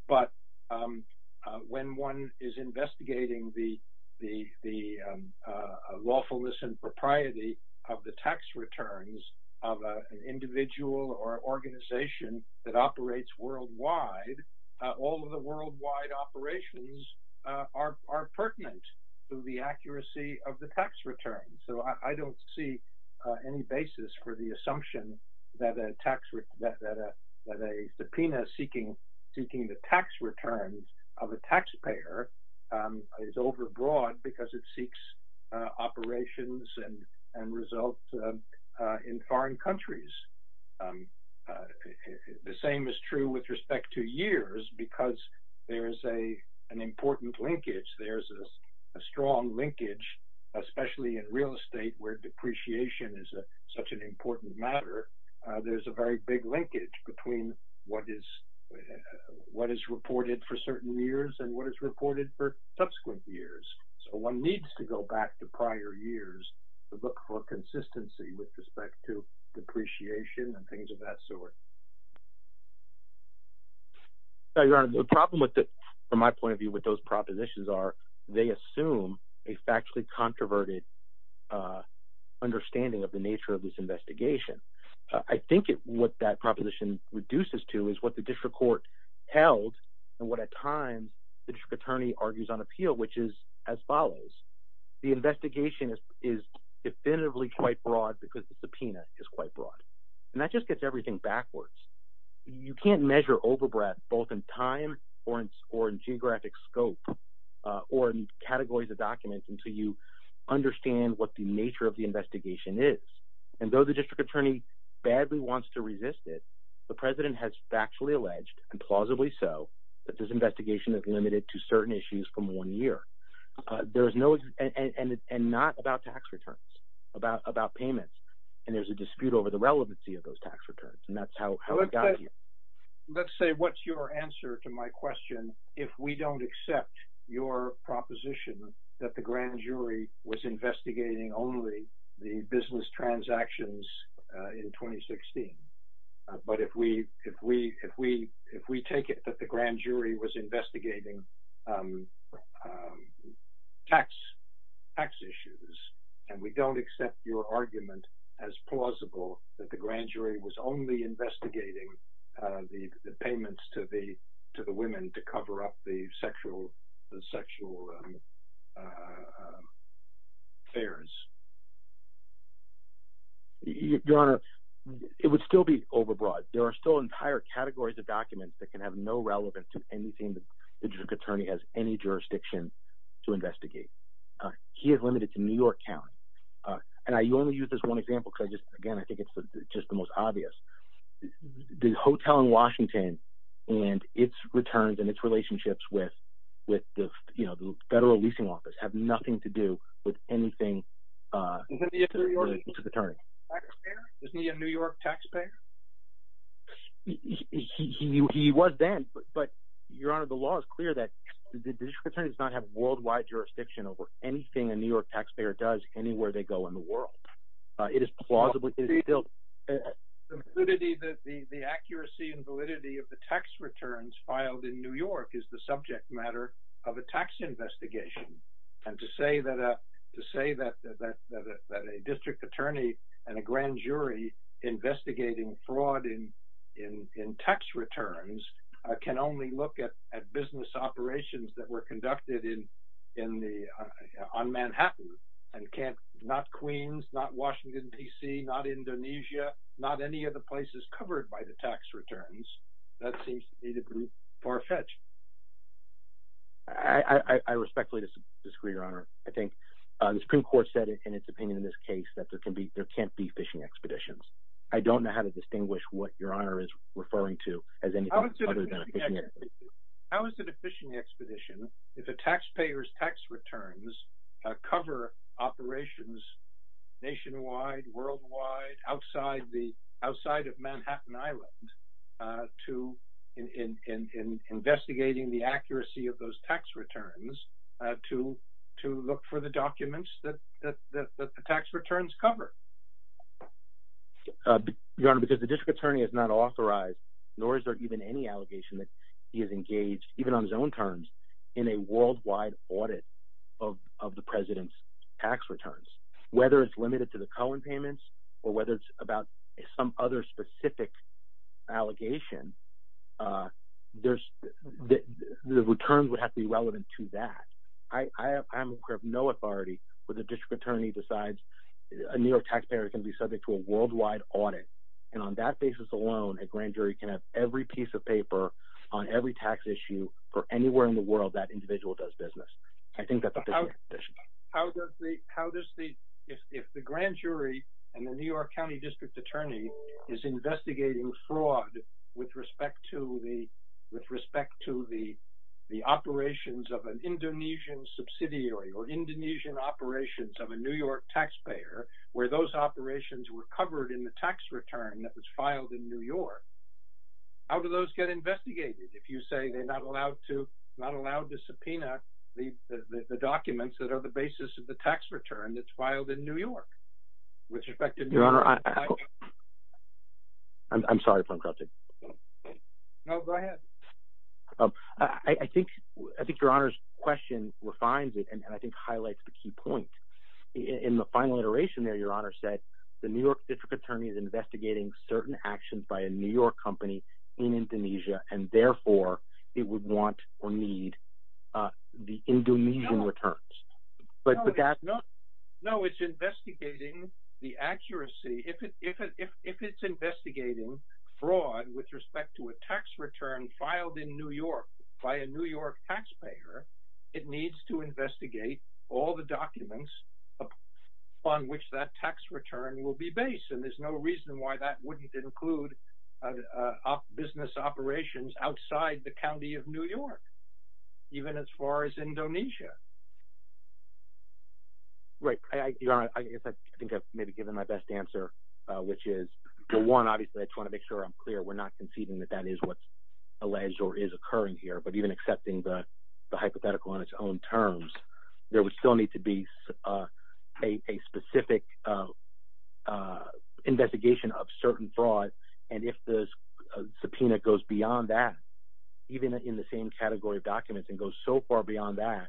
But, um, uh, when one is investigating the, the, the, um, uh, lawfulness and propriety of the tax returns of a individual or organization that operates worldwide, all of the worldwide operations, uh, are, are pertinent to the accuracy of the tax return. So I don't see any basis for the assumption that a tax, that, that, uh, that a subpoena seeking, seeking the tax returns of a taxpayer, um, is overbroad because it seeks, uh, operations and, and results, uh, uh, in foreign countries. Um, uh, the same is true with respect to years, because there is a, an important linkage. There's a strong linkage, especially in real estate where depreciation is such an important matter. Uh, there's a very big linkage between what is, what is reported for certain years and what is reported for subsequent years. So one needs to go back to prior years to look for consistency with respect to depreciation and things of that sort. Your honor, the problem with the, from my point of view, what those propositions are, they assume a factually controverted, uh, understanding of the nature of this investigation. I think it, what that proposition reduces to is what the district court held and what a time the district attorney argues on appeal, which is as follows. The investigation is definitively quite broad because the subpoena is quite broad and that just gets everything backwards. You can't measure overbreadth both in time or in, or in geographic scope, uh, or in categories of documents until you understand what the nature of the investigation is. And though the district attorney badly wants to resist it, the president has factually alleged and plausibly so that this investigation is limited to certain issues from one year. There is no, and, and, and not about tax returns about, about payments. And there's a dispute over the relevancy of those tax returns. And that's how we got here. Let's say what's your answer to my question. If we don't accept your proposition that the grand jury was investigating only the business transactions in 2016, but if we, if we, if we, if we take it that the grand jury was investigating, um, um, tax, tax issues, and we don't accept your argument as plausible that the grand jury was only investigating, uh, the, the payments to the, to the women to cover up the You, your honor, it would still be overbroad. There are still entire categories of documents that can have no relevance to anything. The district attorney has any jurisdiction to investigate. Uh, he has limited to New York County. Uh, and I only use this one example because I just, again, I think it's just the most obvious the hotel in Washington and its returns and its relationships with, with the, you know, the federal leasing office have nothing to do with anything. Uh, is he a New York taxpayer? He was then, but your honor, the law is clear that the district attorney does not have worldwide jurisdiction over anything in New York taxpayer does anywhere they go in the world. Uh, it is plausibly that the, the accuracy and validity of the tax returns filed in New York is the subject matter of a tax investigation. And to say that, uh, to say that, that, that, that, that a district attorney and a grand jury investigating fraud in, in, in tax returns, uh, can only look at, at business operations that were conducted in, in the, uh, on Manhattan and can't not Queens, not Washington, DC, not Indonesia, not any of the places covered by the tax returns. That seems farfetched. I respectfully disagree, your honor. I think, uh, the Supreme court said in its opinion, in this case that there can be, there can't be fishing expeditions. I don't know how to distinguish what your honor is referring to. How is it a fishing expedition? If a taxpayer's tax returns, uh, cover operations nationwide, worldwide, outside the outside of Manhattan Island, uh, to in, in, in, in investigating the accuracy of those tax returns, uh, to, to look for the documents that, that, that, that the tax returns cover, your honor, because the district attorney has not authorized, nor is there even any allegation that he has engaged even on his own terms in a worldwide audit of, of the president's tax returns, whether it's limited to the Cohen payments or whether it's some other specific allegation, uh, there's the returns would have to be relevant to that. I, I have no authority for the district attorney besides a New York taxpayer can be subject to a worldwide audit. And on that basis alone, a grand jury can have every piece of paper on every tax issue for anywhere in the world that individual does business. I think that's how does the, how does the, if the grand jury and the New York County district attorney is investigating fraud with respect to the, with respect to the, the operations of an Indonesian subsidiary or Indonesian operations of a New York taxpayer, where those operations were covered in the tax return that was filed in New York, how do those get investigated? If you say they're not allowed to, not allowed to subpoena the, the, the documents that are the basis of the tax return that's filed in New York, which affected your honor. I'm sorry if I'm crossing. No, go ahead. I think, I think your honor's question refines it. And I think highlights the key point in the final iteration there, your honor said the New York district attorney is certain actions by a New York company in Indonesia, and therefore it would want or need the Indonesian returns. No, it's investigating the accuracy. If it's investigating fraud with respect to a tax return filed in New York by a New York taxpayer, it needs to investigate all the documents upon which that tax return will be based. And there's no reason why that wouldn't include business operations outside the County of New York, even as far as Indonesia. Right. I think I've maybe given my best answer, which is the one, obviously I just want to make sure I'm clear. We're not conceding that that is what's alleged or is occurring here, but even accepting the hypothetical on its own terms, there would still need to be a specific investigation of certain fraud. And if the subpoena goes beyond that, even in the same category of documents and goes so far beyond that,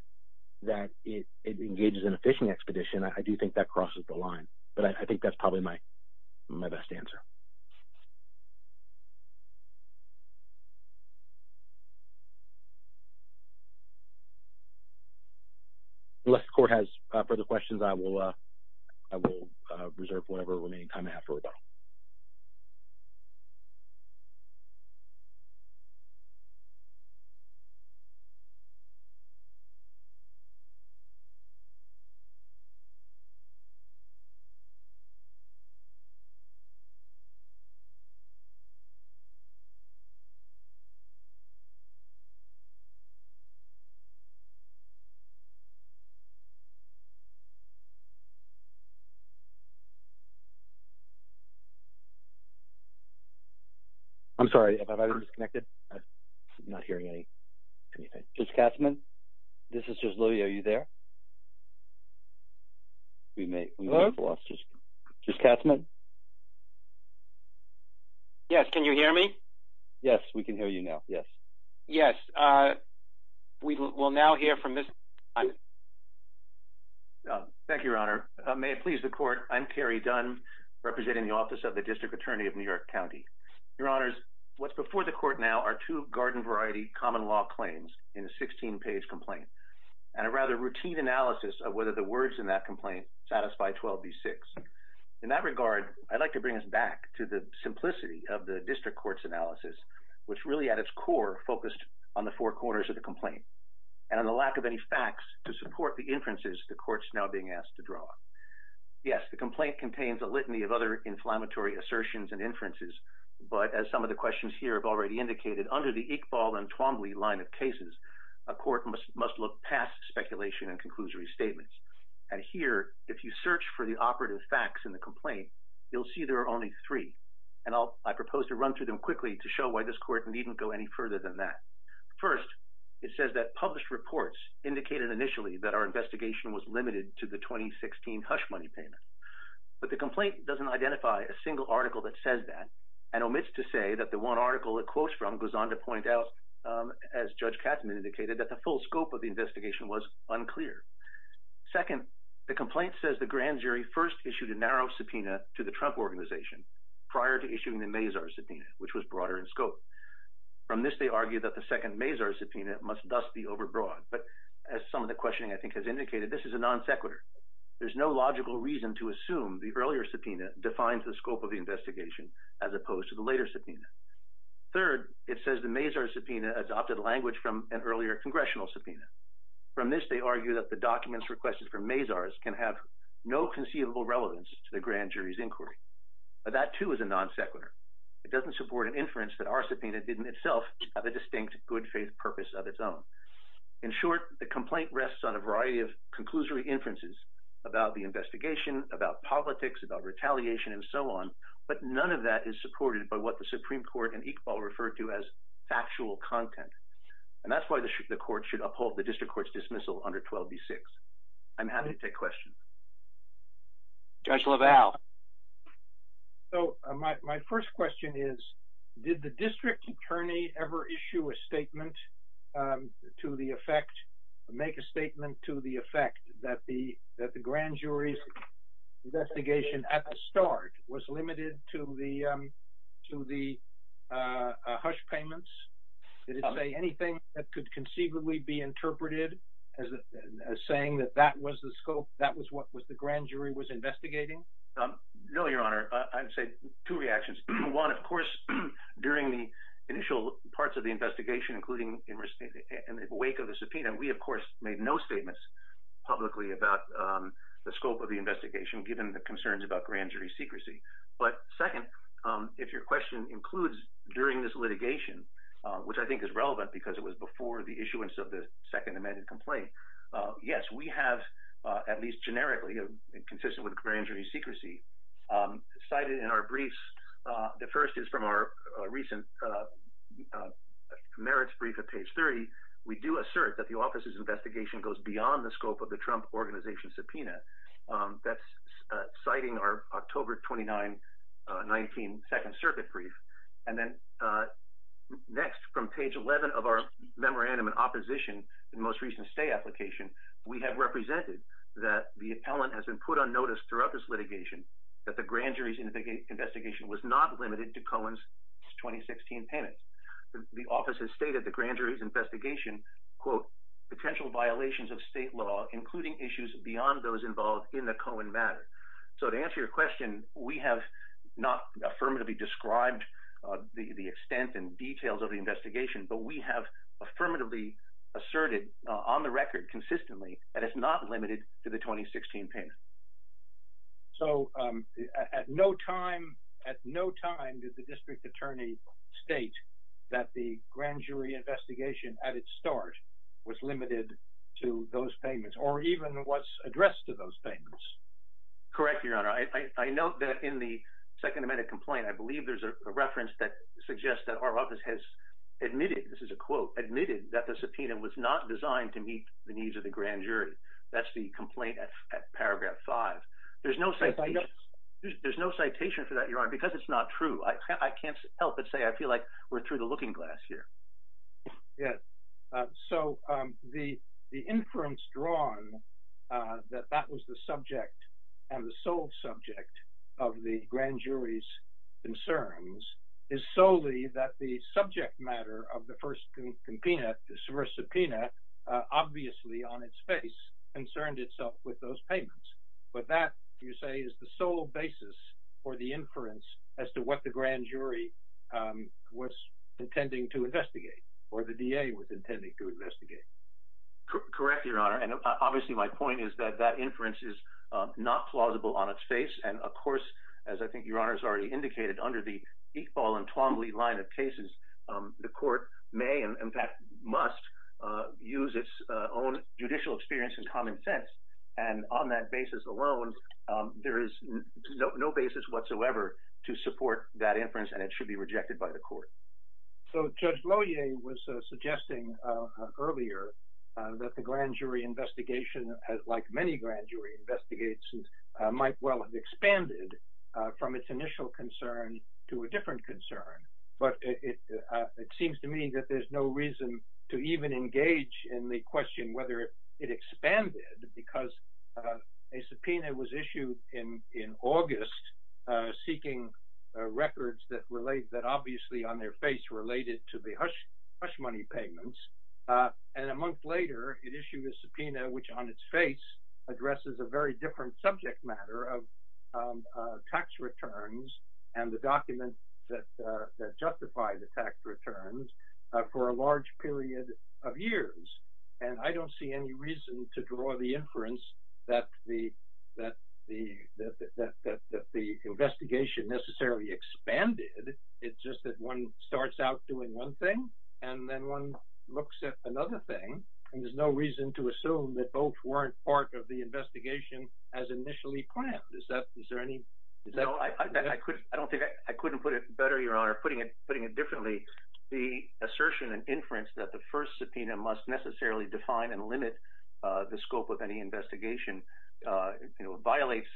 that it engages in a phishing expedition, I do think that crosses the line. But I think that's probably my best answer. Unless the Court has further questions, I will reserve whatever remaining time I have for rebuttal. I'm sorry. Am I disconnected? I'm not hearing anything. Judge Katzmann? This is Judge Lilley. Are you there? Yes. Can you hear me? Yes, we can hear you now. Yes. Yes. We will now hear from Mr. Dunn. Thank you, Your Honor. May it please the Court, I'm Terry Dunn, representing the Office of the District Attorney of New York County. Your Honors, what's before the Court now are two garden variety common law claims in a 16-page complaint and a rather routine analysis of whether the words in that complaint satisfy 12b6. In that regard, I'd like to bring us back to the simplicity of the District Court's analysis, which really at its core focused on the four corners of the complaint and the lack of any facts to support the inferences the Court's now being asked to draw. Yes, the complaint contains a litany of other inflammatory assertions and inferences, but as some of the questions here already indicated, under the Iqbal and Twombly line of cases, a court must look past speculation and conclusory statements. And here, if you search for the operative facts in the complaint, you'll see there are only three. And I propose to run through them quickly to show why this Court needn't go any further than that. First, it says that published reports indicated initially that our investigation was limited to the 2016 hush money payment. But the complaint doesn't identify a single article that says that and omits to say that the one article it quotes from goes on to point out, as Judge Katzmann indicated, that the full scope of the investigation was unclear. Second, the complaint says the grand jury first issued a narrow subpoena to the Trump organization prior to issuing the Mazars subpoena, which was broader in scope. From this, they argue that the second Mazars subpoena must thus be overbroad. But as some of the questioning, I think, has indicated, this is a non sequitur. There's no logical reason to assume the earlier subpoena defines the scope of the investigation as opposed to the later subpoena. Third, it says the Mazars subpoena adopted language from an earlier congressional subpoena. From this, they argue that the documents requested from Mazars can have no conceivable relevance to the grand jury's inquiry. That too is a non sequitur. It doesn't support an inference that our subpoena didn't itself have a distinct good faith purpose of its own. In short, the complaint rests on a variety of conclusory inferences about the investigation, about politics, about retaliation, and so on. But none of that is supported by what the Supreme Court and Iqbal referred to as factual content. And that's why the court should uphold the district court's dismissal under 12b-6. I'm happy to take questions. Judge LaValle. So my first question is, did the district attorney ever issue a statement to the effect, make a statement to the effect that the grand jury's investigation at the start was limited to the hush payments? Did it say anything that could conceivably be interpreted as saying that that was the scope, that was what the grand jury was investigating? Parts of the investigation, including in the wake of the subpoena, we, of course, made no statements publicly about the scope of the investigation, given the concerns about grand jury secrecy. But second, if your question includes during this litigation, which I think is relevant because it was before the issuance of the second amended complaint, yes, we have, at least generically and consistent with grand jury secrecy, cited in our briefs, the first is from our recent merits brief of page 30. We do assert that the office's investigation goes beyond the scope of the Trump organization subpoena. That's citing our October 29, 19 second circuit brief. And then next from page 11 of our memorandum in opposition, the most recent stay application, we have represented that the appellant has been put on notice throughout this litigation that the grand jury's investigation was not limited to Cohen's 2016 payment. The office has stated the grand jury's investigation, quote, potential violations of state law, including issues beyond those involved in the Cohen matter. So to answer your question, we have not affirmatively described the extent and details of the investigation, but we have affirmatively asserted on the record consistently that it's not limited to the 2016 payment. So at no time, at no time did the district attorney state that the grand jury investigation at its start was limited to those payments or even what's addressed to those payments. Correct, your honor. I note that in the second amended complaint, I believe there's a reference that suggests that our office has admitted, this is a quote, admitted that the subpoena was not designed to meet the needs of the grand jury. That's the complaint at paragraph five. There's no, there's no citation for that, your honor, because it's not true. I can't help but say, I feel like we're through the looking glass here. Yeah. So the, the inference drawn that that was the subject and the sole subject of the grand jury's concerns is solely that the obviously on its face concerned itself with those payments. But that you say is the sole basis for the inference as to what the grand jury was intending to investigate or the DA was intending to investigate. Correct, your honor. And obviously my point is that that inference is not plausible on its face. And of course, as I think your honor has already indicated under the equal and must use its own judicial experience and common sense. And on that basis alone, there is no basis whatsoever to support that inference and it should be rejected by the court. So judge was suggesting earlier that the grand jury investigation has like many grand jury investigations might well have expanded from its initial concern to a different concern. But it seems to me that there's no reason to even engage in the question, whether it expanded because a subpoena was issued in August seeking records that relate that obviously on their face related to the hush money payments. And a month later, it issued a subpoena, which on its face justified the tax returns for a large period of years. And I don't see any reason to draw the inference that the investigation necessarily expanded. It's just that one starts out doing one thing and then one looks at another thing. And there's no reason to assume that both weren't part of the investigation as initially planned. Is that, is there any? No, I don't think I couldn't put it better, Your Honor, putting it differently. The assertion and inference that the first subpoena must necessarily define and limit the scope of any investigation, you know, violates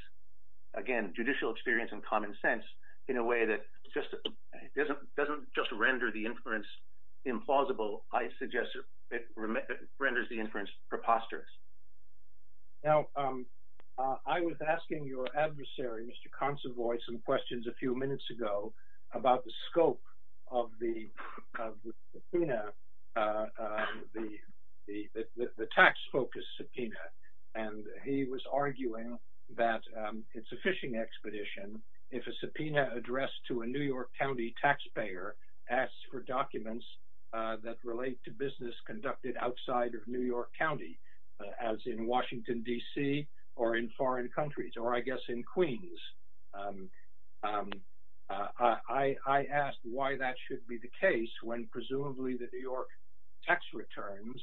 again judicial experience and common sense in a way that just doesn't just render the inference implausible. I suggest it renders the inference preposterous. Now, I was asking your adversary, Mr. Consovoy, some questions a few minutes ago about the scope of the subpoena, the tax-focused subpoena. And he was arguing that it's a fishing expedition if a subpoena addressed to a New York County taxpayer asks for documents that relate to business conducted outside of New York County, as in Washington, D.C., or in foreign countries, or I guess in Queens. I asked why that should be the case when presumably the New York tax returns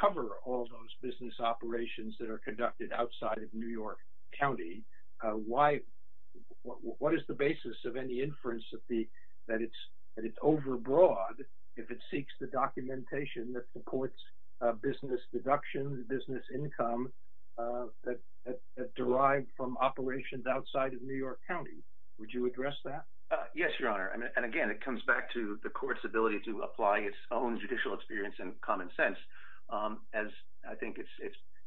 cover all those business operations that are conducted outside of New York County. What is the basis of any inference that it's overbroad if it seeks the documentation that supports business deductions, business income that derive from operations outside of New York County? Would you address that? Yes, Your Honor. And again, it comes back to the court's ability to apply its own judicial experience and common sense. As I think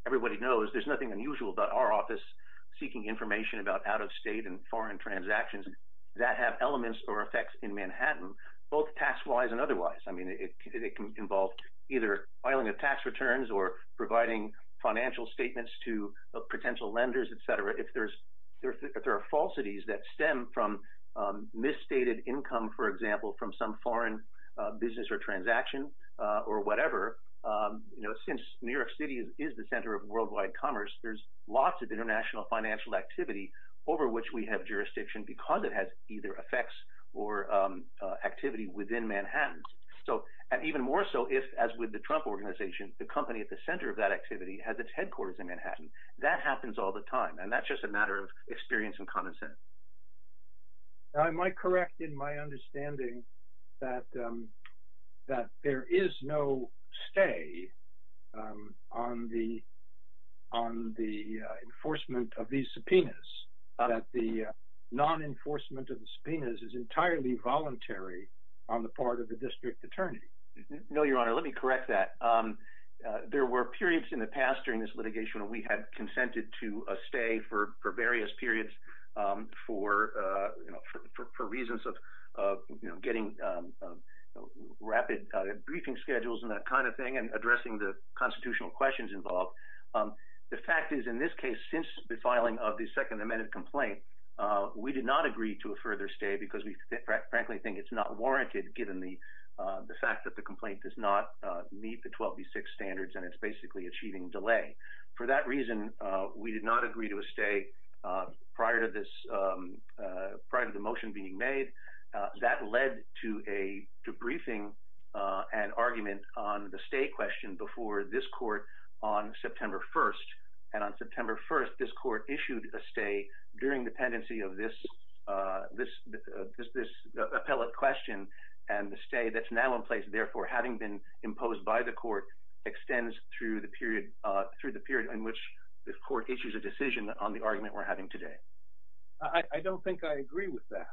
everybody knows, there's nothing unusual about our office seeking information about out-of-state and foreign transactions that have elements or effects in Manhattan, both task-wise and otherwise. I mean, it can involve either filing of tax returns or providing financial statements to potential lenders, et cetera. If there are falsities that stem from misstated income, for example, from some foreign business or transaction or whatever, you know, since New York City is the center of worldwide commerce, there's lots of international financial activity over which we have jurisdiction because it has either effects or activity within Manhattan. And even more so if, as with the Trump Organization, the company at the center of that activity has its headquarters in Manhattan. That happens all the time, and that's just a matter of experience and common sense. I might correct in my understanding that there is no stay on the enforcement of these subpoenas, that the non-enforcement of the subpoenas is entirely voluntary on the part of the district attorney. No, Your Honor, let me correct that. There were periods in the past during this litigation where we had consented to a stay for various periods for reasons of getting rapid briefing schedules and that kind of thing and addressing the constitutional questions involved. The fact is, in this case, since the filing of the Second Amendment complaint, we did not agree to a further stay because we frankly think it's not warranted given the fact that the complaint does not meet the 12B6 standards and it's basically a cheating delay. For that reason, we did not agree to a stay prior to the motion being made. That led to a briefing and argument on the stay question before this court on September 1st. On September 1st, this court issued a stay during the pendency of this appellate question, and the stay that's now in place, therefore having been imposed by the court, extends through the period in which the court issues a decision on the argument we're having today. I don't think I agree with that.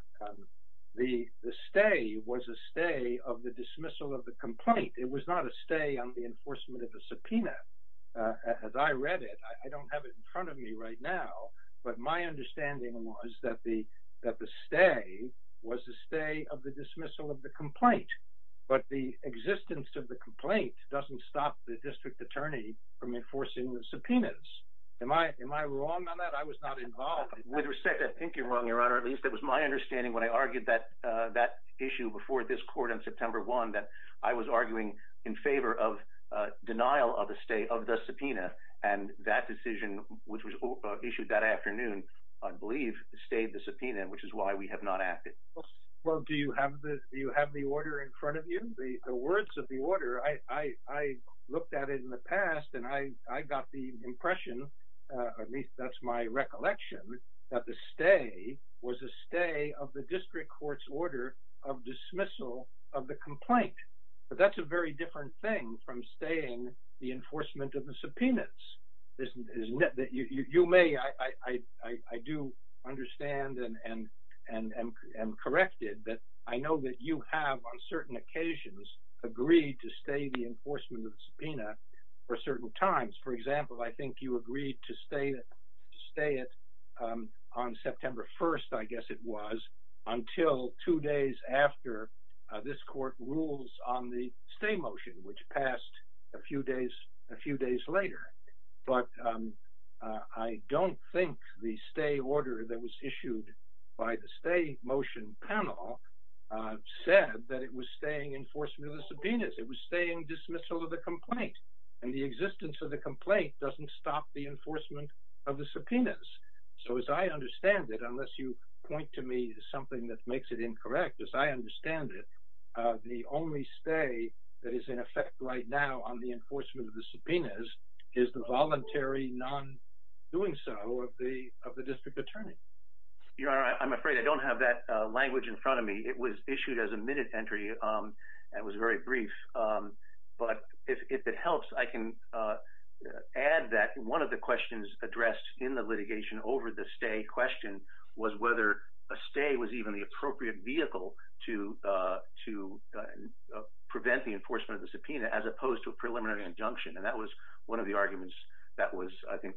The stay was a stay of the dismissal of the complaint. It was not a stay on the enforcement of the subpoena as I read it. I don't have it in front of me right now, but my understanding was that the stay was the stay of the dismissal of the complaint, but the existence of the complaint doesn't stop the district attorney from enforcing the subpoenas. Am I wrong on that? I was not arguing that issue before this court on September 1st. I was arguing in favor of denial of the stay of the subpoena, and that decision, which was issued that afternoon, I believe stayed the subpoena, which is why we have not acted. Well, do you have the order in front of you? The words of the order, I looked at it in the past and I got the impression, at least that's my court's order of dismissal of the complaint, but that's a very different thing from staying the enforcement of the subpoenas. I do understand and am corrected that I know that you have on certain occasions agreed to stay the enforcement of the subpoena for certain times. For example, I think you agreed to stay it on September 1st, I guess it was, until two days after this court rules on the stay motion, which passed a few days later. But I don't think the stay order that was issued by the stay motion panel said that it was staying enforcement of the subpoenas. It was dismissal of the complaint, and the existence of the complaint doesn't stop the enforcement of the subpoenas. So as I understand it, unless you point to me something that makes it incorrect, as I understand it, the only stay that is in effect right now on the enforcement of the subpoenas is the voluntary non-doing so of the district attorney. Your Honor, I'm afraid I don't have that language in front of me. It was issued as a minute entry and was very brief. But if it helps, I can add that one of the questions addressed in the litigation over the stay question was whether a stay was even the appropriate vehicle to prevent the enforcement of the subpoena, as opposed to a preliminary injunction. And that was one of the arguments that was, I think,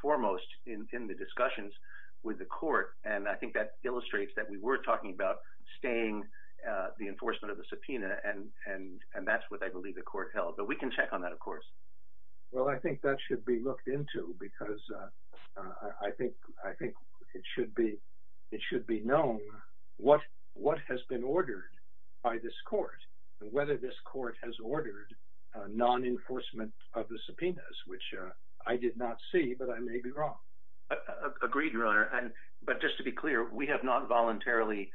foremost in the discussions with the court. And I think that illustrates that we were talking about staying the enforcement of the subpoena, and that's what I believe the court held. But we can check on that, of course. Well, I think that should be looked into because I think it should be known what has been ordered by this court, and whether this court has ordered non-enforcement of the subpoenas, which I did not see, but I may be wrong. Agreed, Your Honor. But just to be clear, we have not voluntarily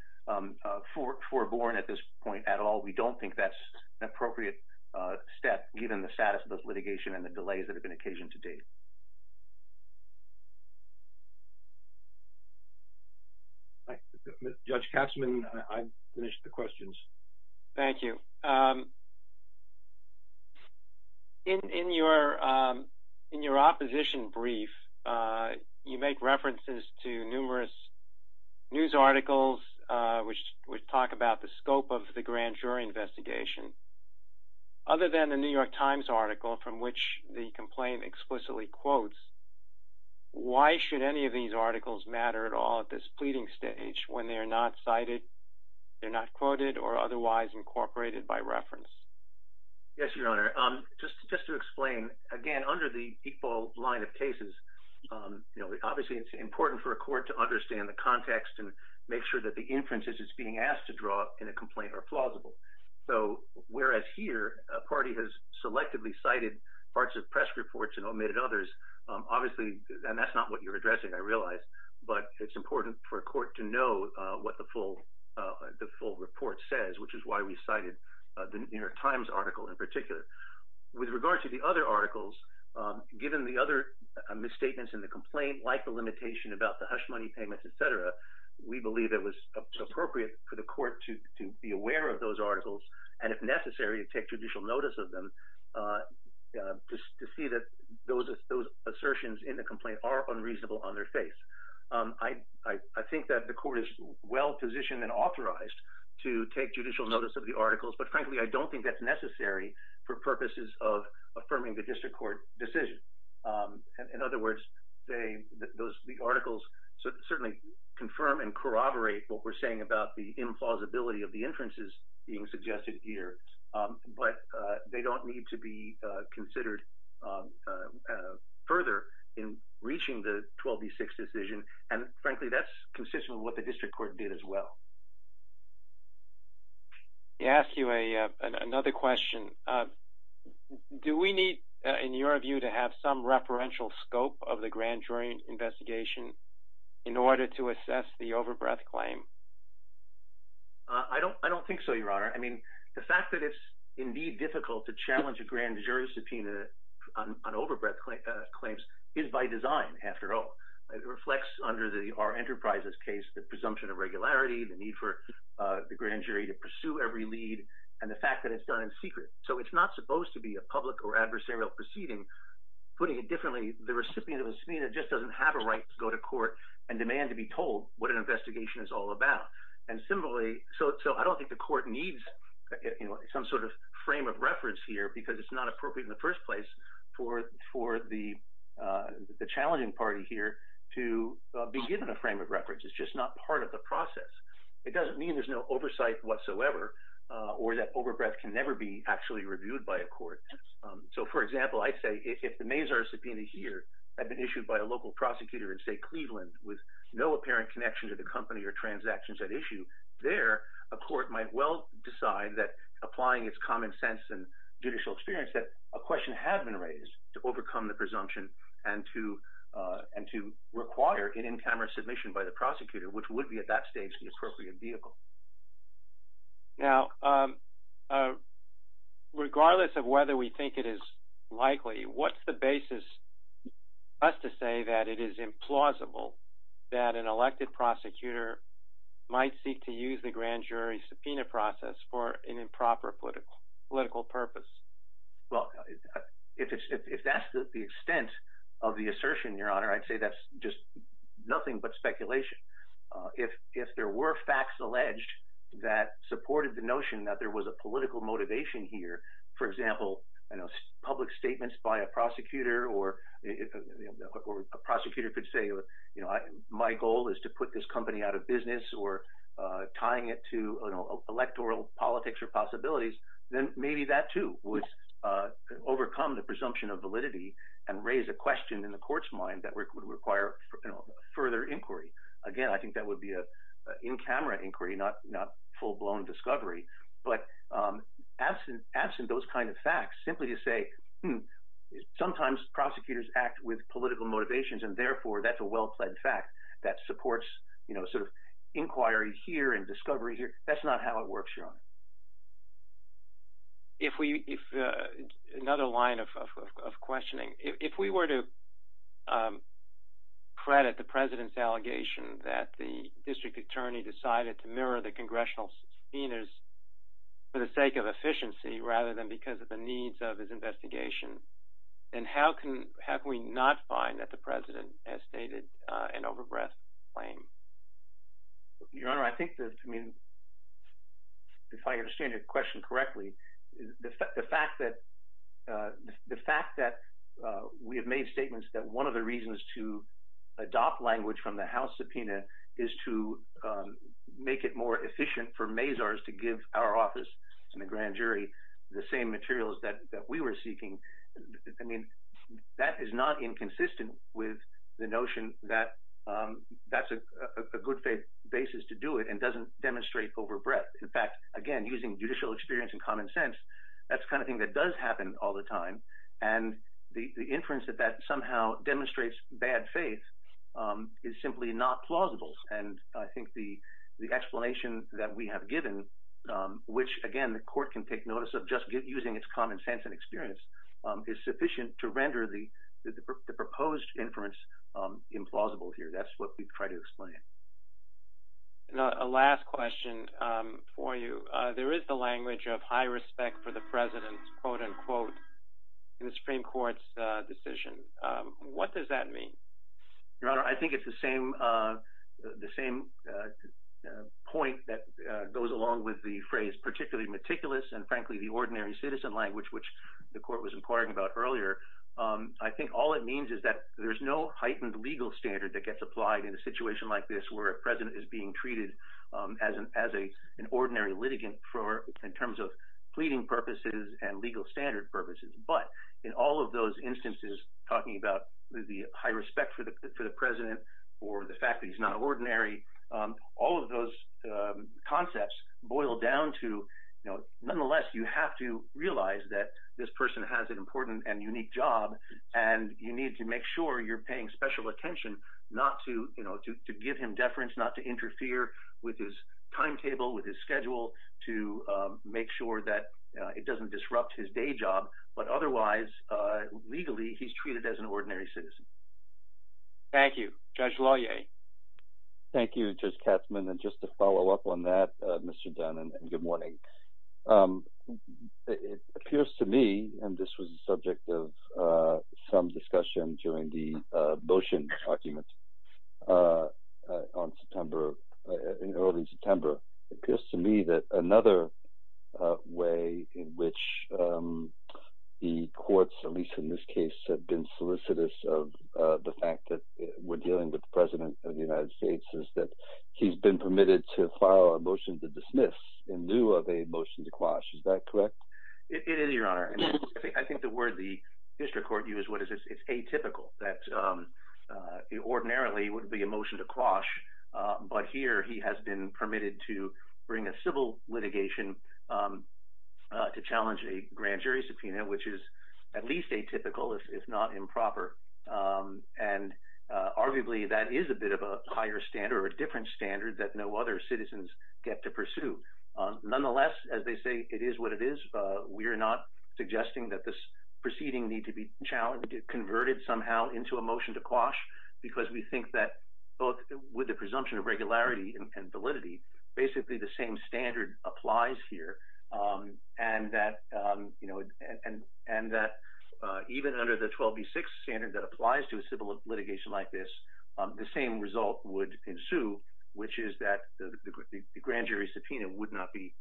foreborn at this point at all. We don't think that's an appropriate step, given the status of those litigation and the delays that have been occasioned to date. Judge Katzman, I've finished the questions. Thank you. In your opposition brief, you make references to numerous news articles which talk about the scope of the grand jury investigation. Other than the New York Times article from which the complaint explicitly quotes, why should any of these articles matter at all at this pleading stage when they are not cited, they're not quoted, or otherwise incorporated by reference? Yes, Your Honor. Just to explain, again, under the equal line of cases, obviously it's important for a court to understand the context and make sure that the inferences it's being asked to draw in a complaint are plausible. So whereas here, a party has selectively cited parts of press reports and omitted others, obviously, and that's not what you're addressing, I realize, but it's important for a court to know what the full report says, which is why we cited the New York Times article in particular. With regard to the other articles, given the other misstatements in the complaint, like the limitation about the hush money payments, et cetera, we believe it was appropriate for the court to be aware of those articles and, if necessary, to take judicial notice of them to see that those assertions in the complaint are unreasonable on their face. I think that the court is well-positioned and authorized to take judicial notice of the articles, but frankly, I don't think that's necessary for purposes of affirming the district court decision. In other words, the articles certainly confirm and corroborate what we're saying about the implausibility of the inferences being suggested here, but they don't need to be and, frankly, that's consistent with what the district court did as well. May I ask you another question? Do we need, in your view, to have some referential scope of the grand jury investigation in order to assess the overbreath claim? I don't think so, Your Honor. I mean, the fact that it's indeed difficult to challenge a grand jury claims is by design, after all. It reflects, under the R Enterprises case, the presumption of regularity, the need for the grand jury to pursue every lead, and the fact that it's done in secret. So it's not supposed to be a public or adversarial proceeding. Putting it differently, the recipient of a subpoena just doesn't have a right to go to court and demand to be told what an investigation is all about. And similarly, so I don't think the court needs some sort of frame of reference here because it's not appropriate in the first place for the challenging party here to be given a frame of reference. It's just not part of the process. It doesn't mean there's no oversight whatsoever or that overbreath can never be actually reviewed by a court. So, for example, I say if the Mazars subpoena here had been issued by a local prosecutor in, say, Cleveland with no apparent connection to the company or transactions at issue there, a court might well decide that, applying its common sense and judicial experience, that a question had been raised to overcome the presumption and to require an in-camera submission by the prosecutor, which would be at that stage the appropriate vehicle. Now, regardless of whether we think it is likely, what's the basis for us to say that it is implausible that an elected prosecutor might seek to use the grand jury subpoena process for an improper political purpose? Well, if that's the extent of the assertion, Your Honor, I'd say that's just nothing but speculation. If there were facts alleged that supported the notion that there was a political motivation here, for example, public statements by a prosecutor or a prosecutor could say, my goal is to put this company out of business or tying it to electoral politics or possibilities, then maybe that, too, would overcome the presumption of validity and raise a question in the court's mind that would require further inquiry. Again, I think that would be an in-camera inquiry, not full-blown discovery. But absent those kind of facts, simply to say, sometimes prosecutors act with political motivations, and therefore that's a well-pled fact that supports inquiry here and discovery here, that's not how it works, Your Honor. If we, another line of questioning, if we were to credit the President's allegation that the district attorney decided to mirror the Congressional subpoenas for the sake of efficiency rather than because of the needs of his investigation, then how can, how can we not find that the President has stated an overbread claim? Your Honor, I think that, I mean, the fact that we have made statements that one of the reasons to adopt language from the House subpoena is to make it more efficient for Mazars to give our office and the grand jury the same materials that we were seeking, I mean, that is not inconsistent with the notion that that's a good basis to do it and doesn't demonstrate overbreadth. In fact, again, using judicial experience and common sense, that's the kind of thing that does happen all the time, and the inference that that somehow demonstrates bad faith is simply not plausible. And I think the explanation that we have given, which, again, the Court can take notice of just using its common sense and experience, is sufficient to render the proposed inference implausible here. That's what we've tried to explain. Now, a last question for you. There is the language of high respect for the President's quote-unquote Supreme Court's decision. What does that mean? Your Honor, I think it's the same, the same point that goes along with the phrase particularly meticulous and frankly the ordinary citizen language, which the Court was inquiring about earlier. I think all it means is that there's no heightened legal standard that gets applied in a situation like this where a President is being treated as an ordinary litigant in terms of pleading purposes and legal standard purposes. But in all of those instances, talking about the high respect for the President or the fact that he's not ordinary, all of those concepts boil down to, you know, nonetheless, you have to realize that this person has an important and unique job, and you need to make sure you're paying special attention not to, you know, to give him deference, not to interfere with his timetable, with his schedule, to make sure that it doesn't disrupt his day job. But otherwise, legally, he's treated as an ordinary citizen. Thank you. Judge Loyer. Thank you, Judge Katzmann. And just to follow up on that, Mr. Dunn, and good morning. It appears to me, and this was the subject of some discussion during the motion documents in early September, it appears to me that another way in which the courts, at least in this case, have been solicitous of the fact that we're permitted to file a motion to dismiss in lieu of a motion to quash. Is that correct? It is, Your Honor. I think the word the district court used was it's atypical, that ordinarily would be a motion to quash. But here, he has been permitted to bring a civil litigation to challenge a grand jury subpoena, which is at least atypical, if not improper. And arguably, that is a bit of a higher standard or a different standard that no other citizens get to pursue. Nonetheless, as they say, it is what it is. We're not suggesting that this proceeding need to be converted somehow into a motion to quash, because we think that both with the presumption of regularity and validity, basically the same standard applies here. And that even under the 12 v. 6 standard that applies to a civil litigation like this, the same result would ensue, which is that the grand jury subpoena would not be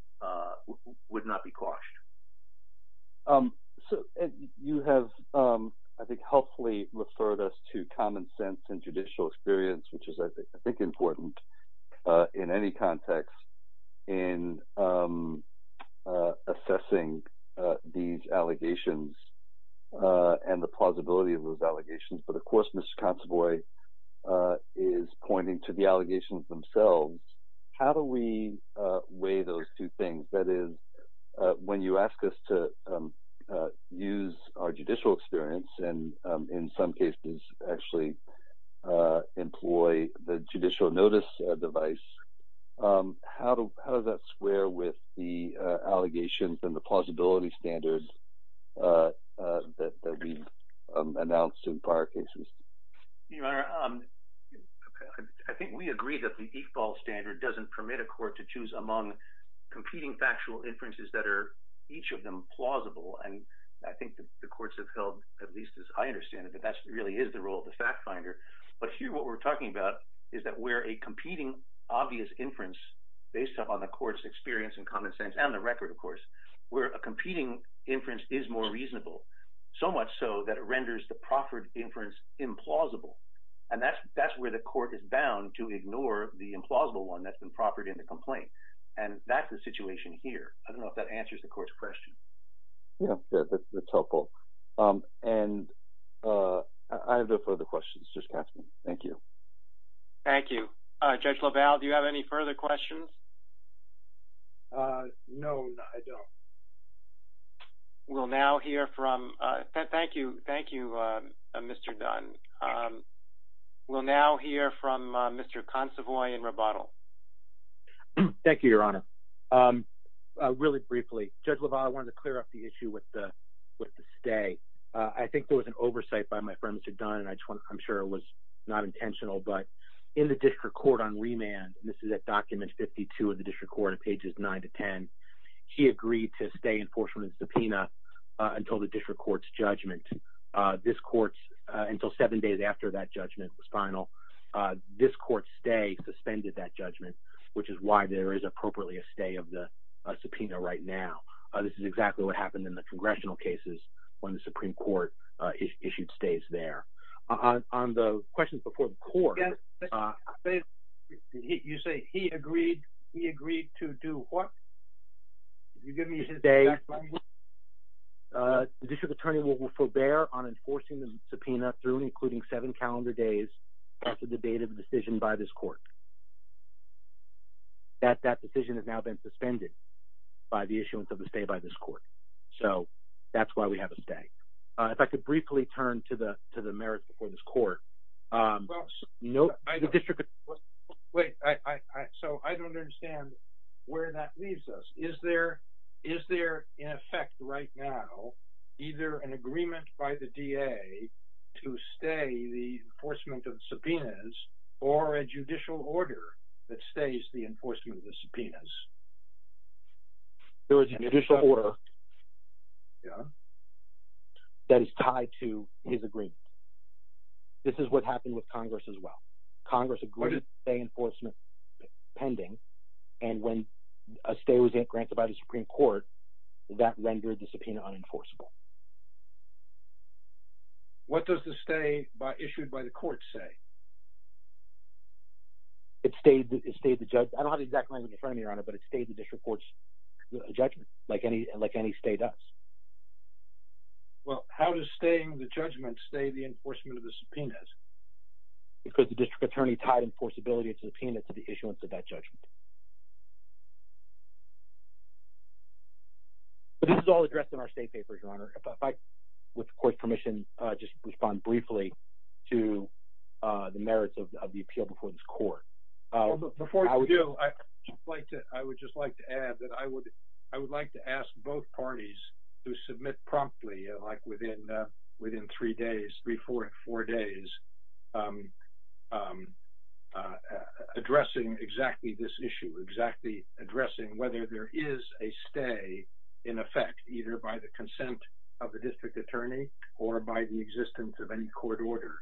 quashed. So you have, I think, helpfully referred us to common sense and judicial experience, which is, I think, important in any context in assessing these allegations and the plausibility of those allegations. But of course, Mr. Consovoy is pointing to the allegations themselves. How do we weigh those two things? That is, when you ask us to use our judicial experience, and in some cases, actually employ the judicial notice device, how does that square with the allegations and the plausibility standards that we announced in prior cases? Your Honor, I think we agree that the EFAL standard doesn't permit a court to choose among competing factual inferences that are, each of them, plausible. I think the courts have held, at least as I understand it, that that really is the role of the fact finder. But here, what we're talking about is that where a competing obvious inference based upon the court's experience and common sense, and the record, of course, where a competing inference is more reasonable, so much so that it renders the proffered inference implausible. And that's where the court is bound to ignore the implausible one that's been proffered in the complaint. And that's the situation here. I don't know if that answers the court's question. Yes, that's helpful. And I have no further questions. Thank you. Thank you. Judge LaValle, do you have any further questions? No, I don't. Thank you, Mr. Dunn. We'll now hear from Mr. Consovoy in rebuttal. Thank you, Your Honor. Really briefly, Judge LaValle, I wanted to clear up the issue with the stay. I think there was an oversight by my friend, Mr. Dunn, and I'm sure it was not intentional, but in the district court on remand, and this is at document 52 of the district court at pages 9 to 10, he agreed to stay in force from his subpoena until the district court's judgment. This court's, until seven days after that judgment was final, this court's stay suspended that judgment, which is why there is appropriately a stay of the subpoena right now. This is exactly what happened in the congressional cases when the Supreme Court issued stays there. On the questions before the court, you say he agreed, he agreed to do what? District attorney will forbear on enforcing the subpoena through including seven calendar days after the date of the decision by this court. That decision has now been suspended by the issuance of the stay by this court, so that's why we have a stay. If I could briefly turn to the merits before this court. Wait, so I don't understand where that leaves us. Is there in effect right now either an agreement by the DA to stay the enforcement of subpoenas or a judicial order that stays the enforcement of the subpoenas? There is a judicial order that is tied to his agreement. This is what happened with Congress as well. Congress agreed to stay enforcement pending, and when a stay was granted by the Supreme Court, that rendered the subpoena unenforceable. What does the stay issued by the court say? It stayed the judgment. I don't have the exact language in front of me, Your Honor, but it stayed the district court's judgment, like any stay does. Well, how does staying the judgment stay the enforcement of the subpoenas? Because the district attorney tied enforceability of subpoenas to the issuance of that judgment. This is all addressed in our state papers, Your Honor. If I, with the court's permission, just respond briefly to the merits of the appeal before this court. I would just like to add that I would like to ask both parties to submit promptly, like within three days, three, four days, addressing exactly this issue, exactly addressing whether there is a stay in effect, either by the consent of the district attorney or by the existence of any court order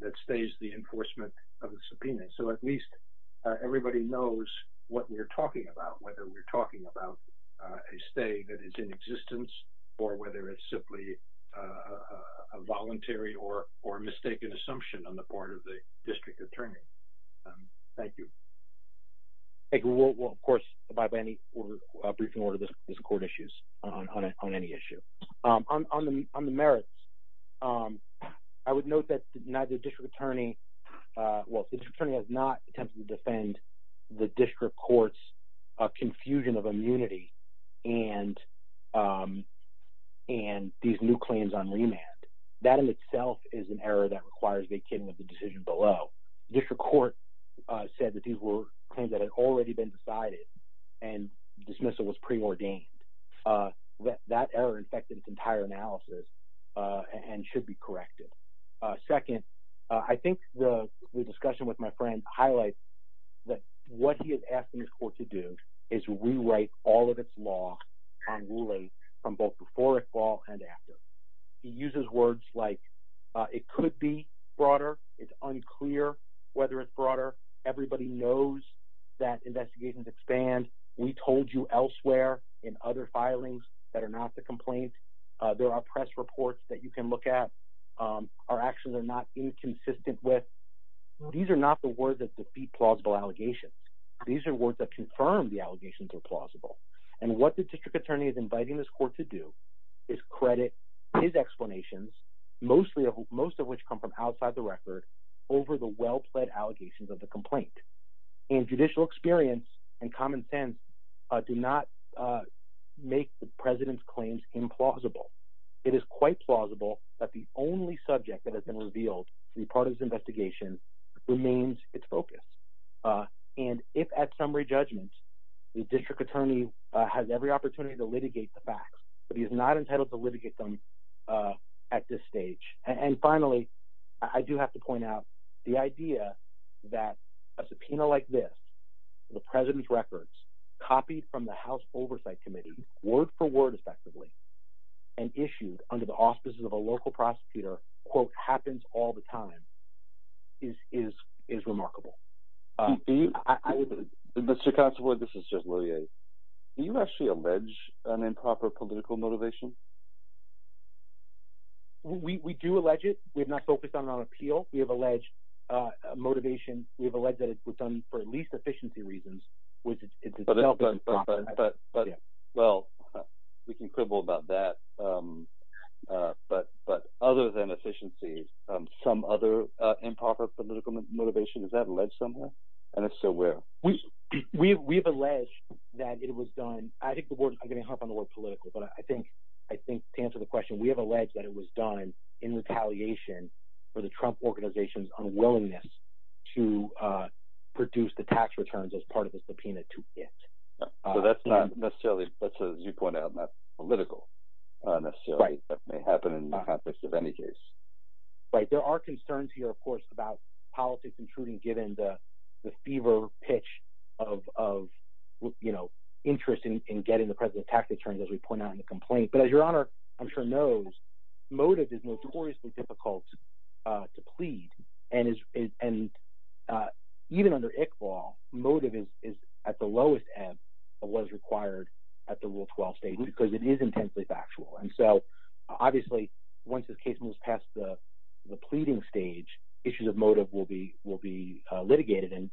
that stays the enforcement of the subpoena. So at least everybody knows what we're talking about, whether we're talking about a stay that is in existence or whether it's simply a voluntary or mistaken assumption on the part of the district attorney. Thank you. Thank you. We'll, of course, abide by any brief order this court issues on any issue. On the merits, I would note that neither district attorney, well, the district attorney has not attempted to defend the district court's confusion of immunity and these new claims on remand. That in itself is an error that requires making of the decision below. District court said that these were claims that had already been decided and dismissal was preordained. That error infected its entire analysis and should be corrected. Second, I think the discussion with my friend highlights that what he is asking this court to do is rewrite all of its law and ruling from both fall and after. He uses words like it could be broader. It's unclear whether it's broader. Everybody knows that investigations expand. We told you elsewhere in other filings that are not the complaint. There are press reports that you can look at. Our actions are not inconsistent with these are not the words that defeat plausible allegations. These are words that confirm the credit, his explanations, most of which come from outside the record over the well-played allegations of the complaint. Judicial experience and common sense do not make the president's claims implausible. It is quite plausible that the only subject that has been revealed to be part of this investigation remains its focus. If at summary judgments, the district attorney has every opportunity to litigate the facts, but he is not entitled to litigate them at this stage. And finally, I do have to point out the idea that a subpoena like this, the president's records copied from the house oversight committee word for word effectively and issued under the offices of a local prosecutor quote happens all the time is remarkable. Do you actually allege an improper political motivation? We do allege it. We have not focused on it on appeal. We have alleged motivation. We have alleged that it was done for at least efficiency reasons. Well, we can quibble about that. But other than efficiency, some other improper political motivation, is that alleged somewhere? I think to answer the question, we have alleged that it was done in retaliation for the Trump organization's unwillingness to produce the tax returns as part of the subpoena to it. So that's not necessarily, as you point out, not political necessarily, but may happen in the context of any case. Right. There are concerns here, of course, about politics intruding, given the fever pitch of interest in getting the president tax returns, as we pointed out in the complaint. But as your honor, I'm sure knows, motive is notoriously difficult to plead. And even under ICFAW, motive is at the lowest ebb of what is required at the rule 12 stage, because it is intensely factual. And so obviously, once this case moves past the motive, we'll be litigated and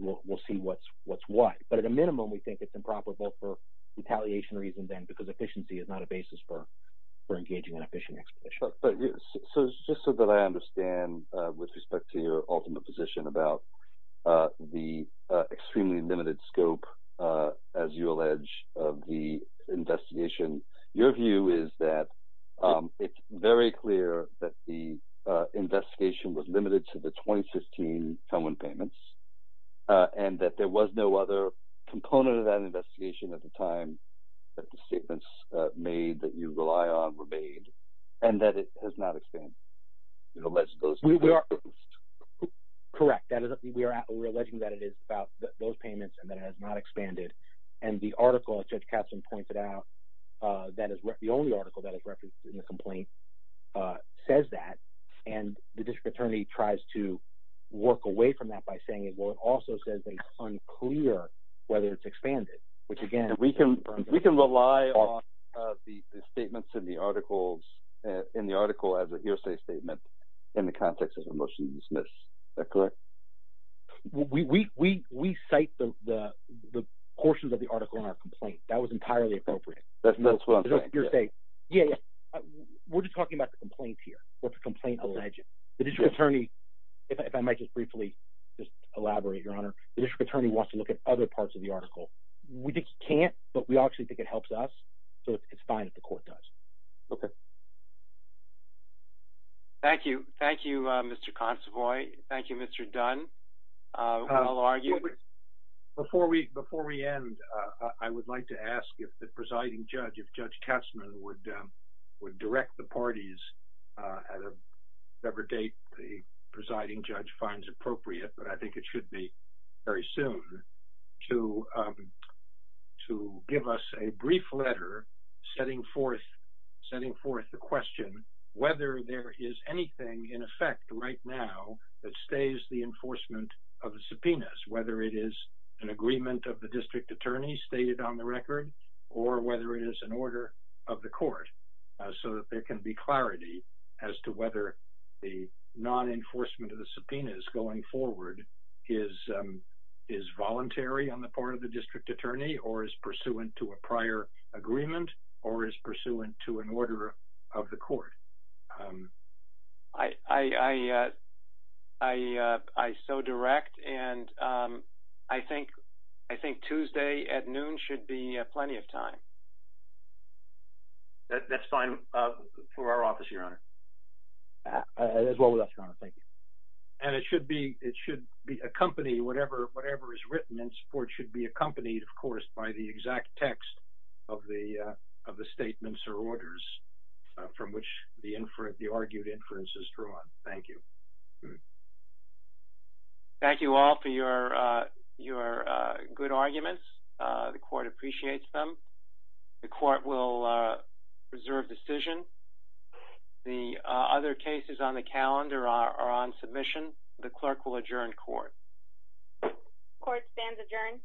we'll see what's what. But at a minimum, we think it's improper, both for retaliation reasons and because efficiency is not a basis for engaging in efficient exposition. So just so that I understand, with respect to your ultimate position about the extremely limited scope, as you allege, of the investigation, your view is that it's very clear that the investigation was limited to the 2016 payments and that there was no other component of that investigation at the time that the statements made that you rely on were made and that it has not expanded. We are correct. We are. We're alleging that it is about those payments and that has not expanded. And the article, as Judge Katzen pointed out, that is the only article that is referenced in the complaint, says that. And the district attorney tries to work away from that by saying, well, it also says it's unclear whether it's expanded, which again, we can rely on the statements in the article as a hearsay statement in the context of a motion to dismiss. Is that correct? We cite the portions of the article in our complaint. That was entirely appropriate. That's what you're saying. Yeah. We're just talking about the complaints here. What's the complaint alleged? The district attorney, if I might just briefly just elaborate, Your Honor, the district attorney wants to look at other parts of the article. We can't, but we actually think it helps us. So it's fine if the court does. Okay. Thank you. Thank you, Mr. Consovoy. Thank you, Mr. Dunn. I'll argue. Before we end, I would like to ask if the presiding judge, if Judge Katzen would direct the parties at whatever date the presiding judge finds appropriate, but I think it should be very soon, to give us a brief letter setting forth the question, whether there is anything in effect right now that stays the enforcement of the subpoenas, whether it is an agreement of the district attorney stated on the record or whether it is an order of the court so that there can be clarity as to whether the non-enforcement of the subpoenas going forward is voluntary on the part of the district attorney or is pursuant to a prior agreement or is pursuant to an order of the court. I so direct, and I think Tuesday at noon should be plenty of time. That's fine for our office, Your Honor. As well with us, Your Honor. Thank you. And it should be accompanied, whatever is written in support should be accompanied, of course, by the exact text of the statements or orders from which the argued inference is drawn. Thank you. Thank you all for your good arguments. The court appreciates them. The court will reserve decision. The other cases on the calendar are on submission. The clerk will adjourn court. The court stands adjourned.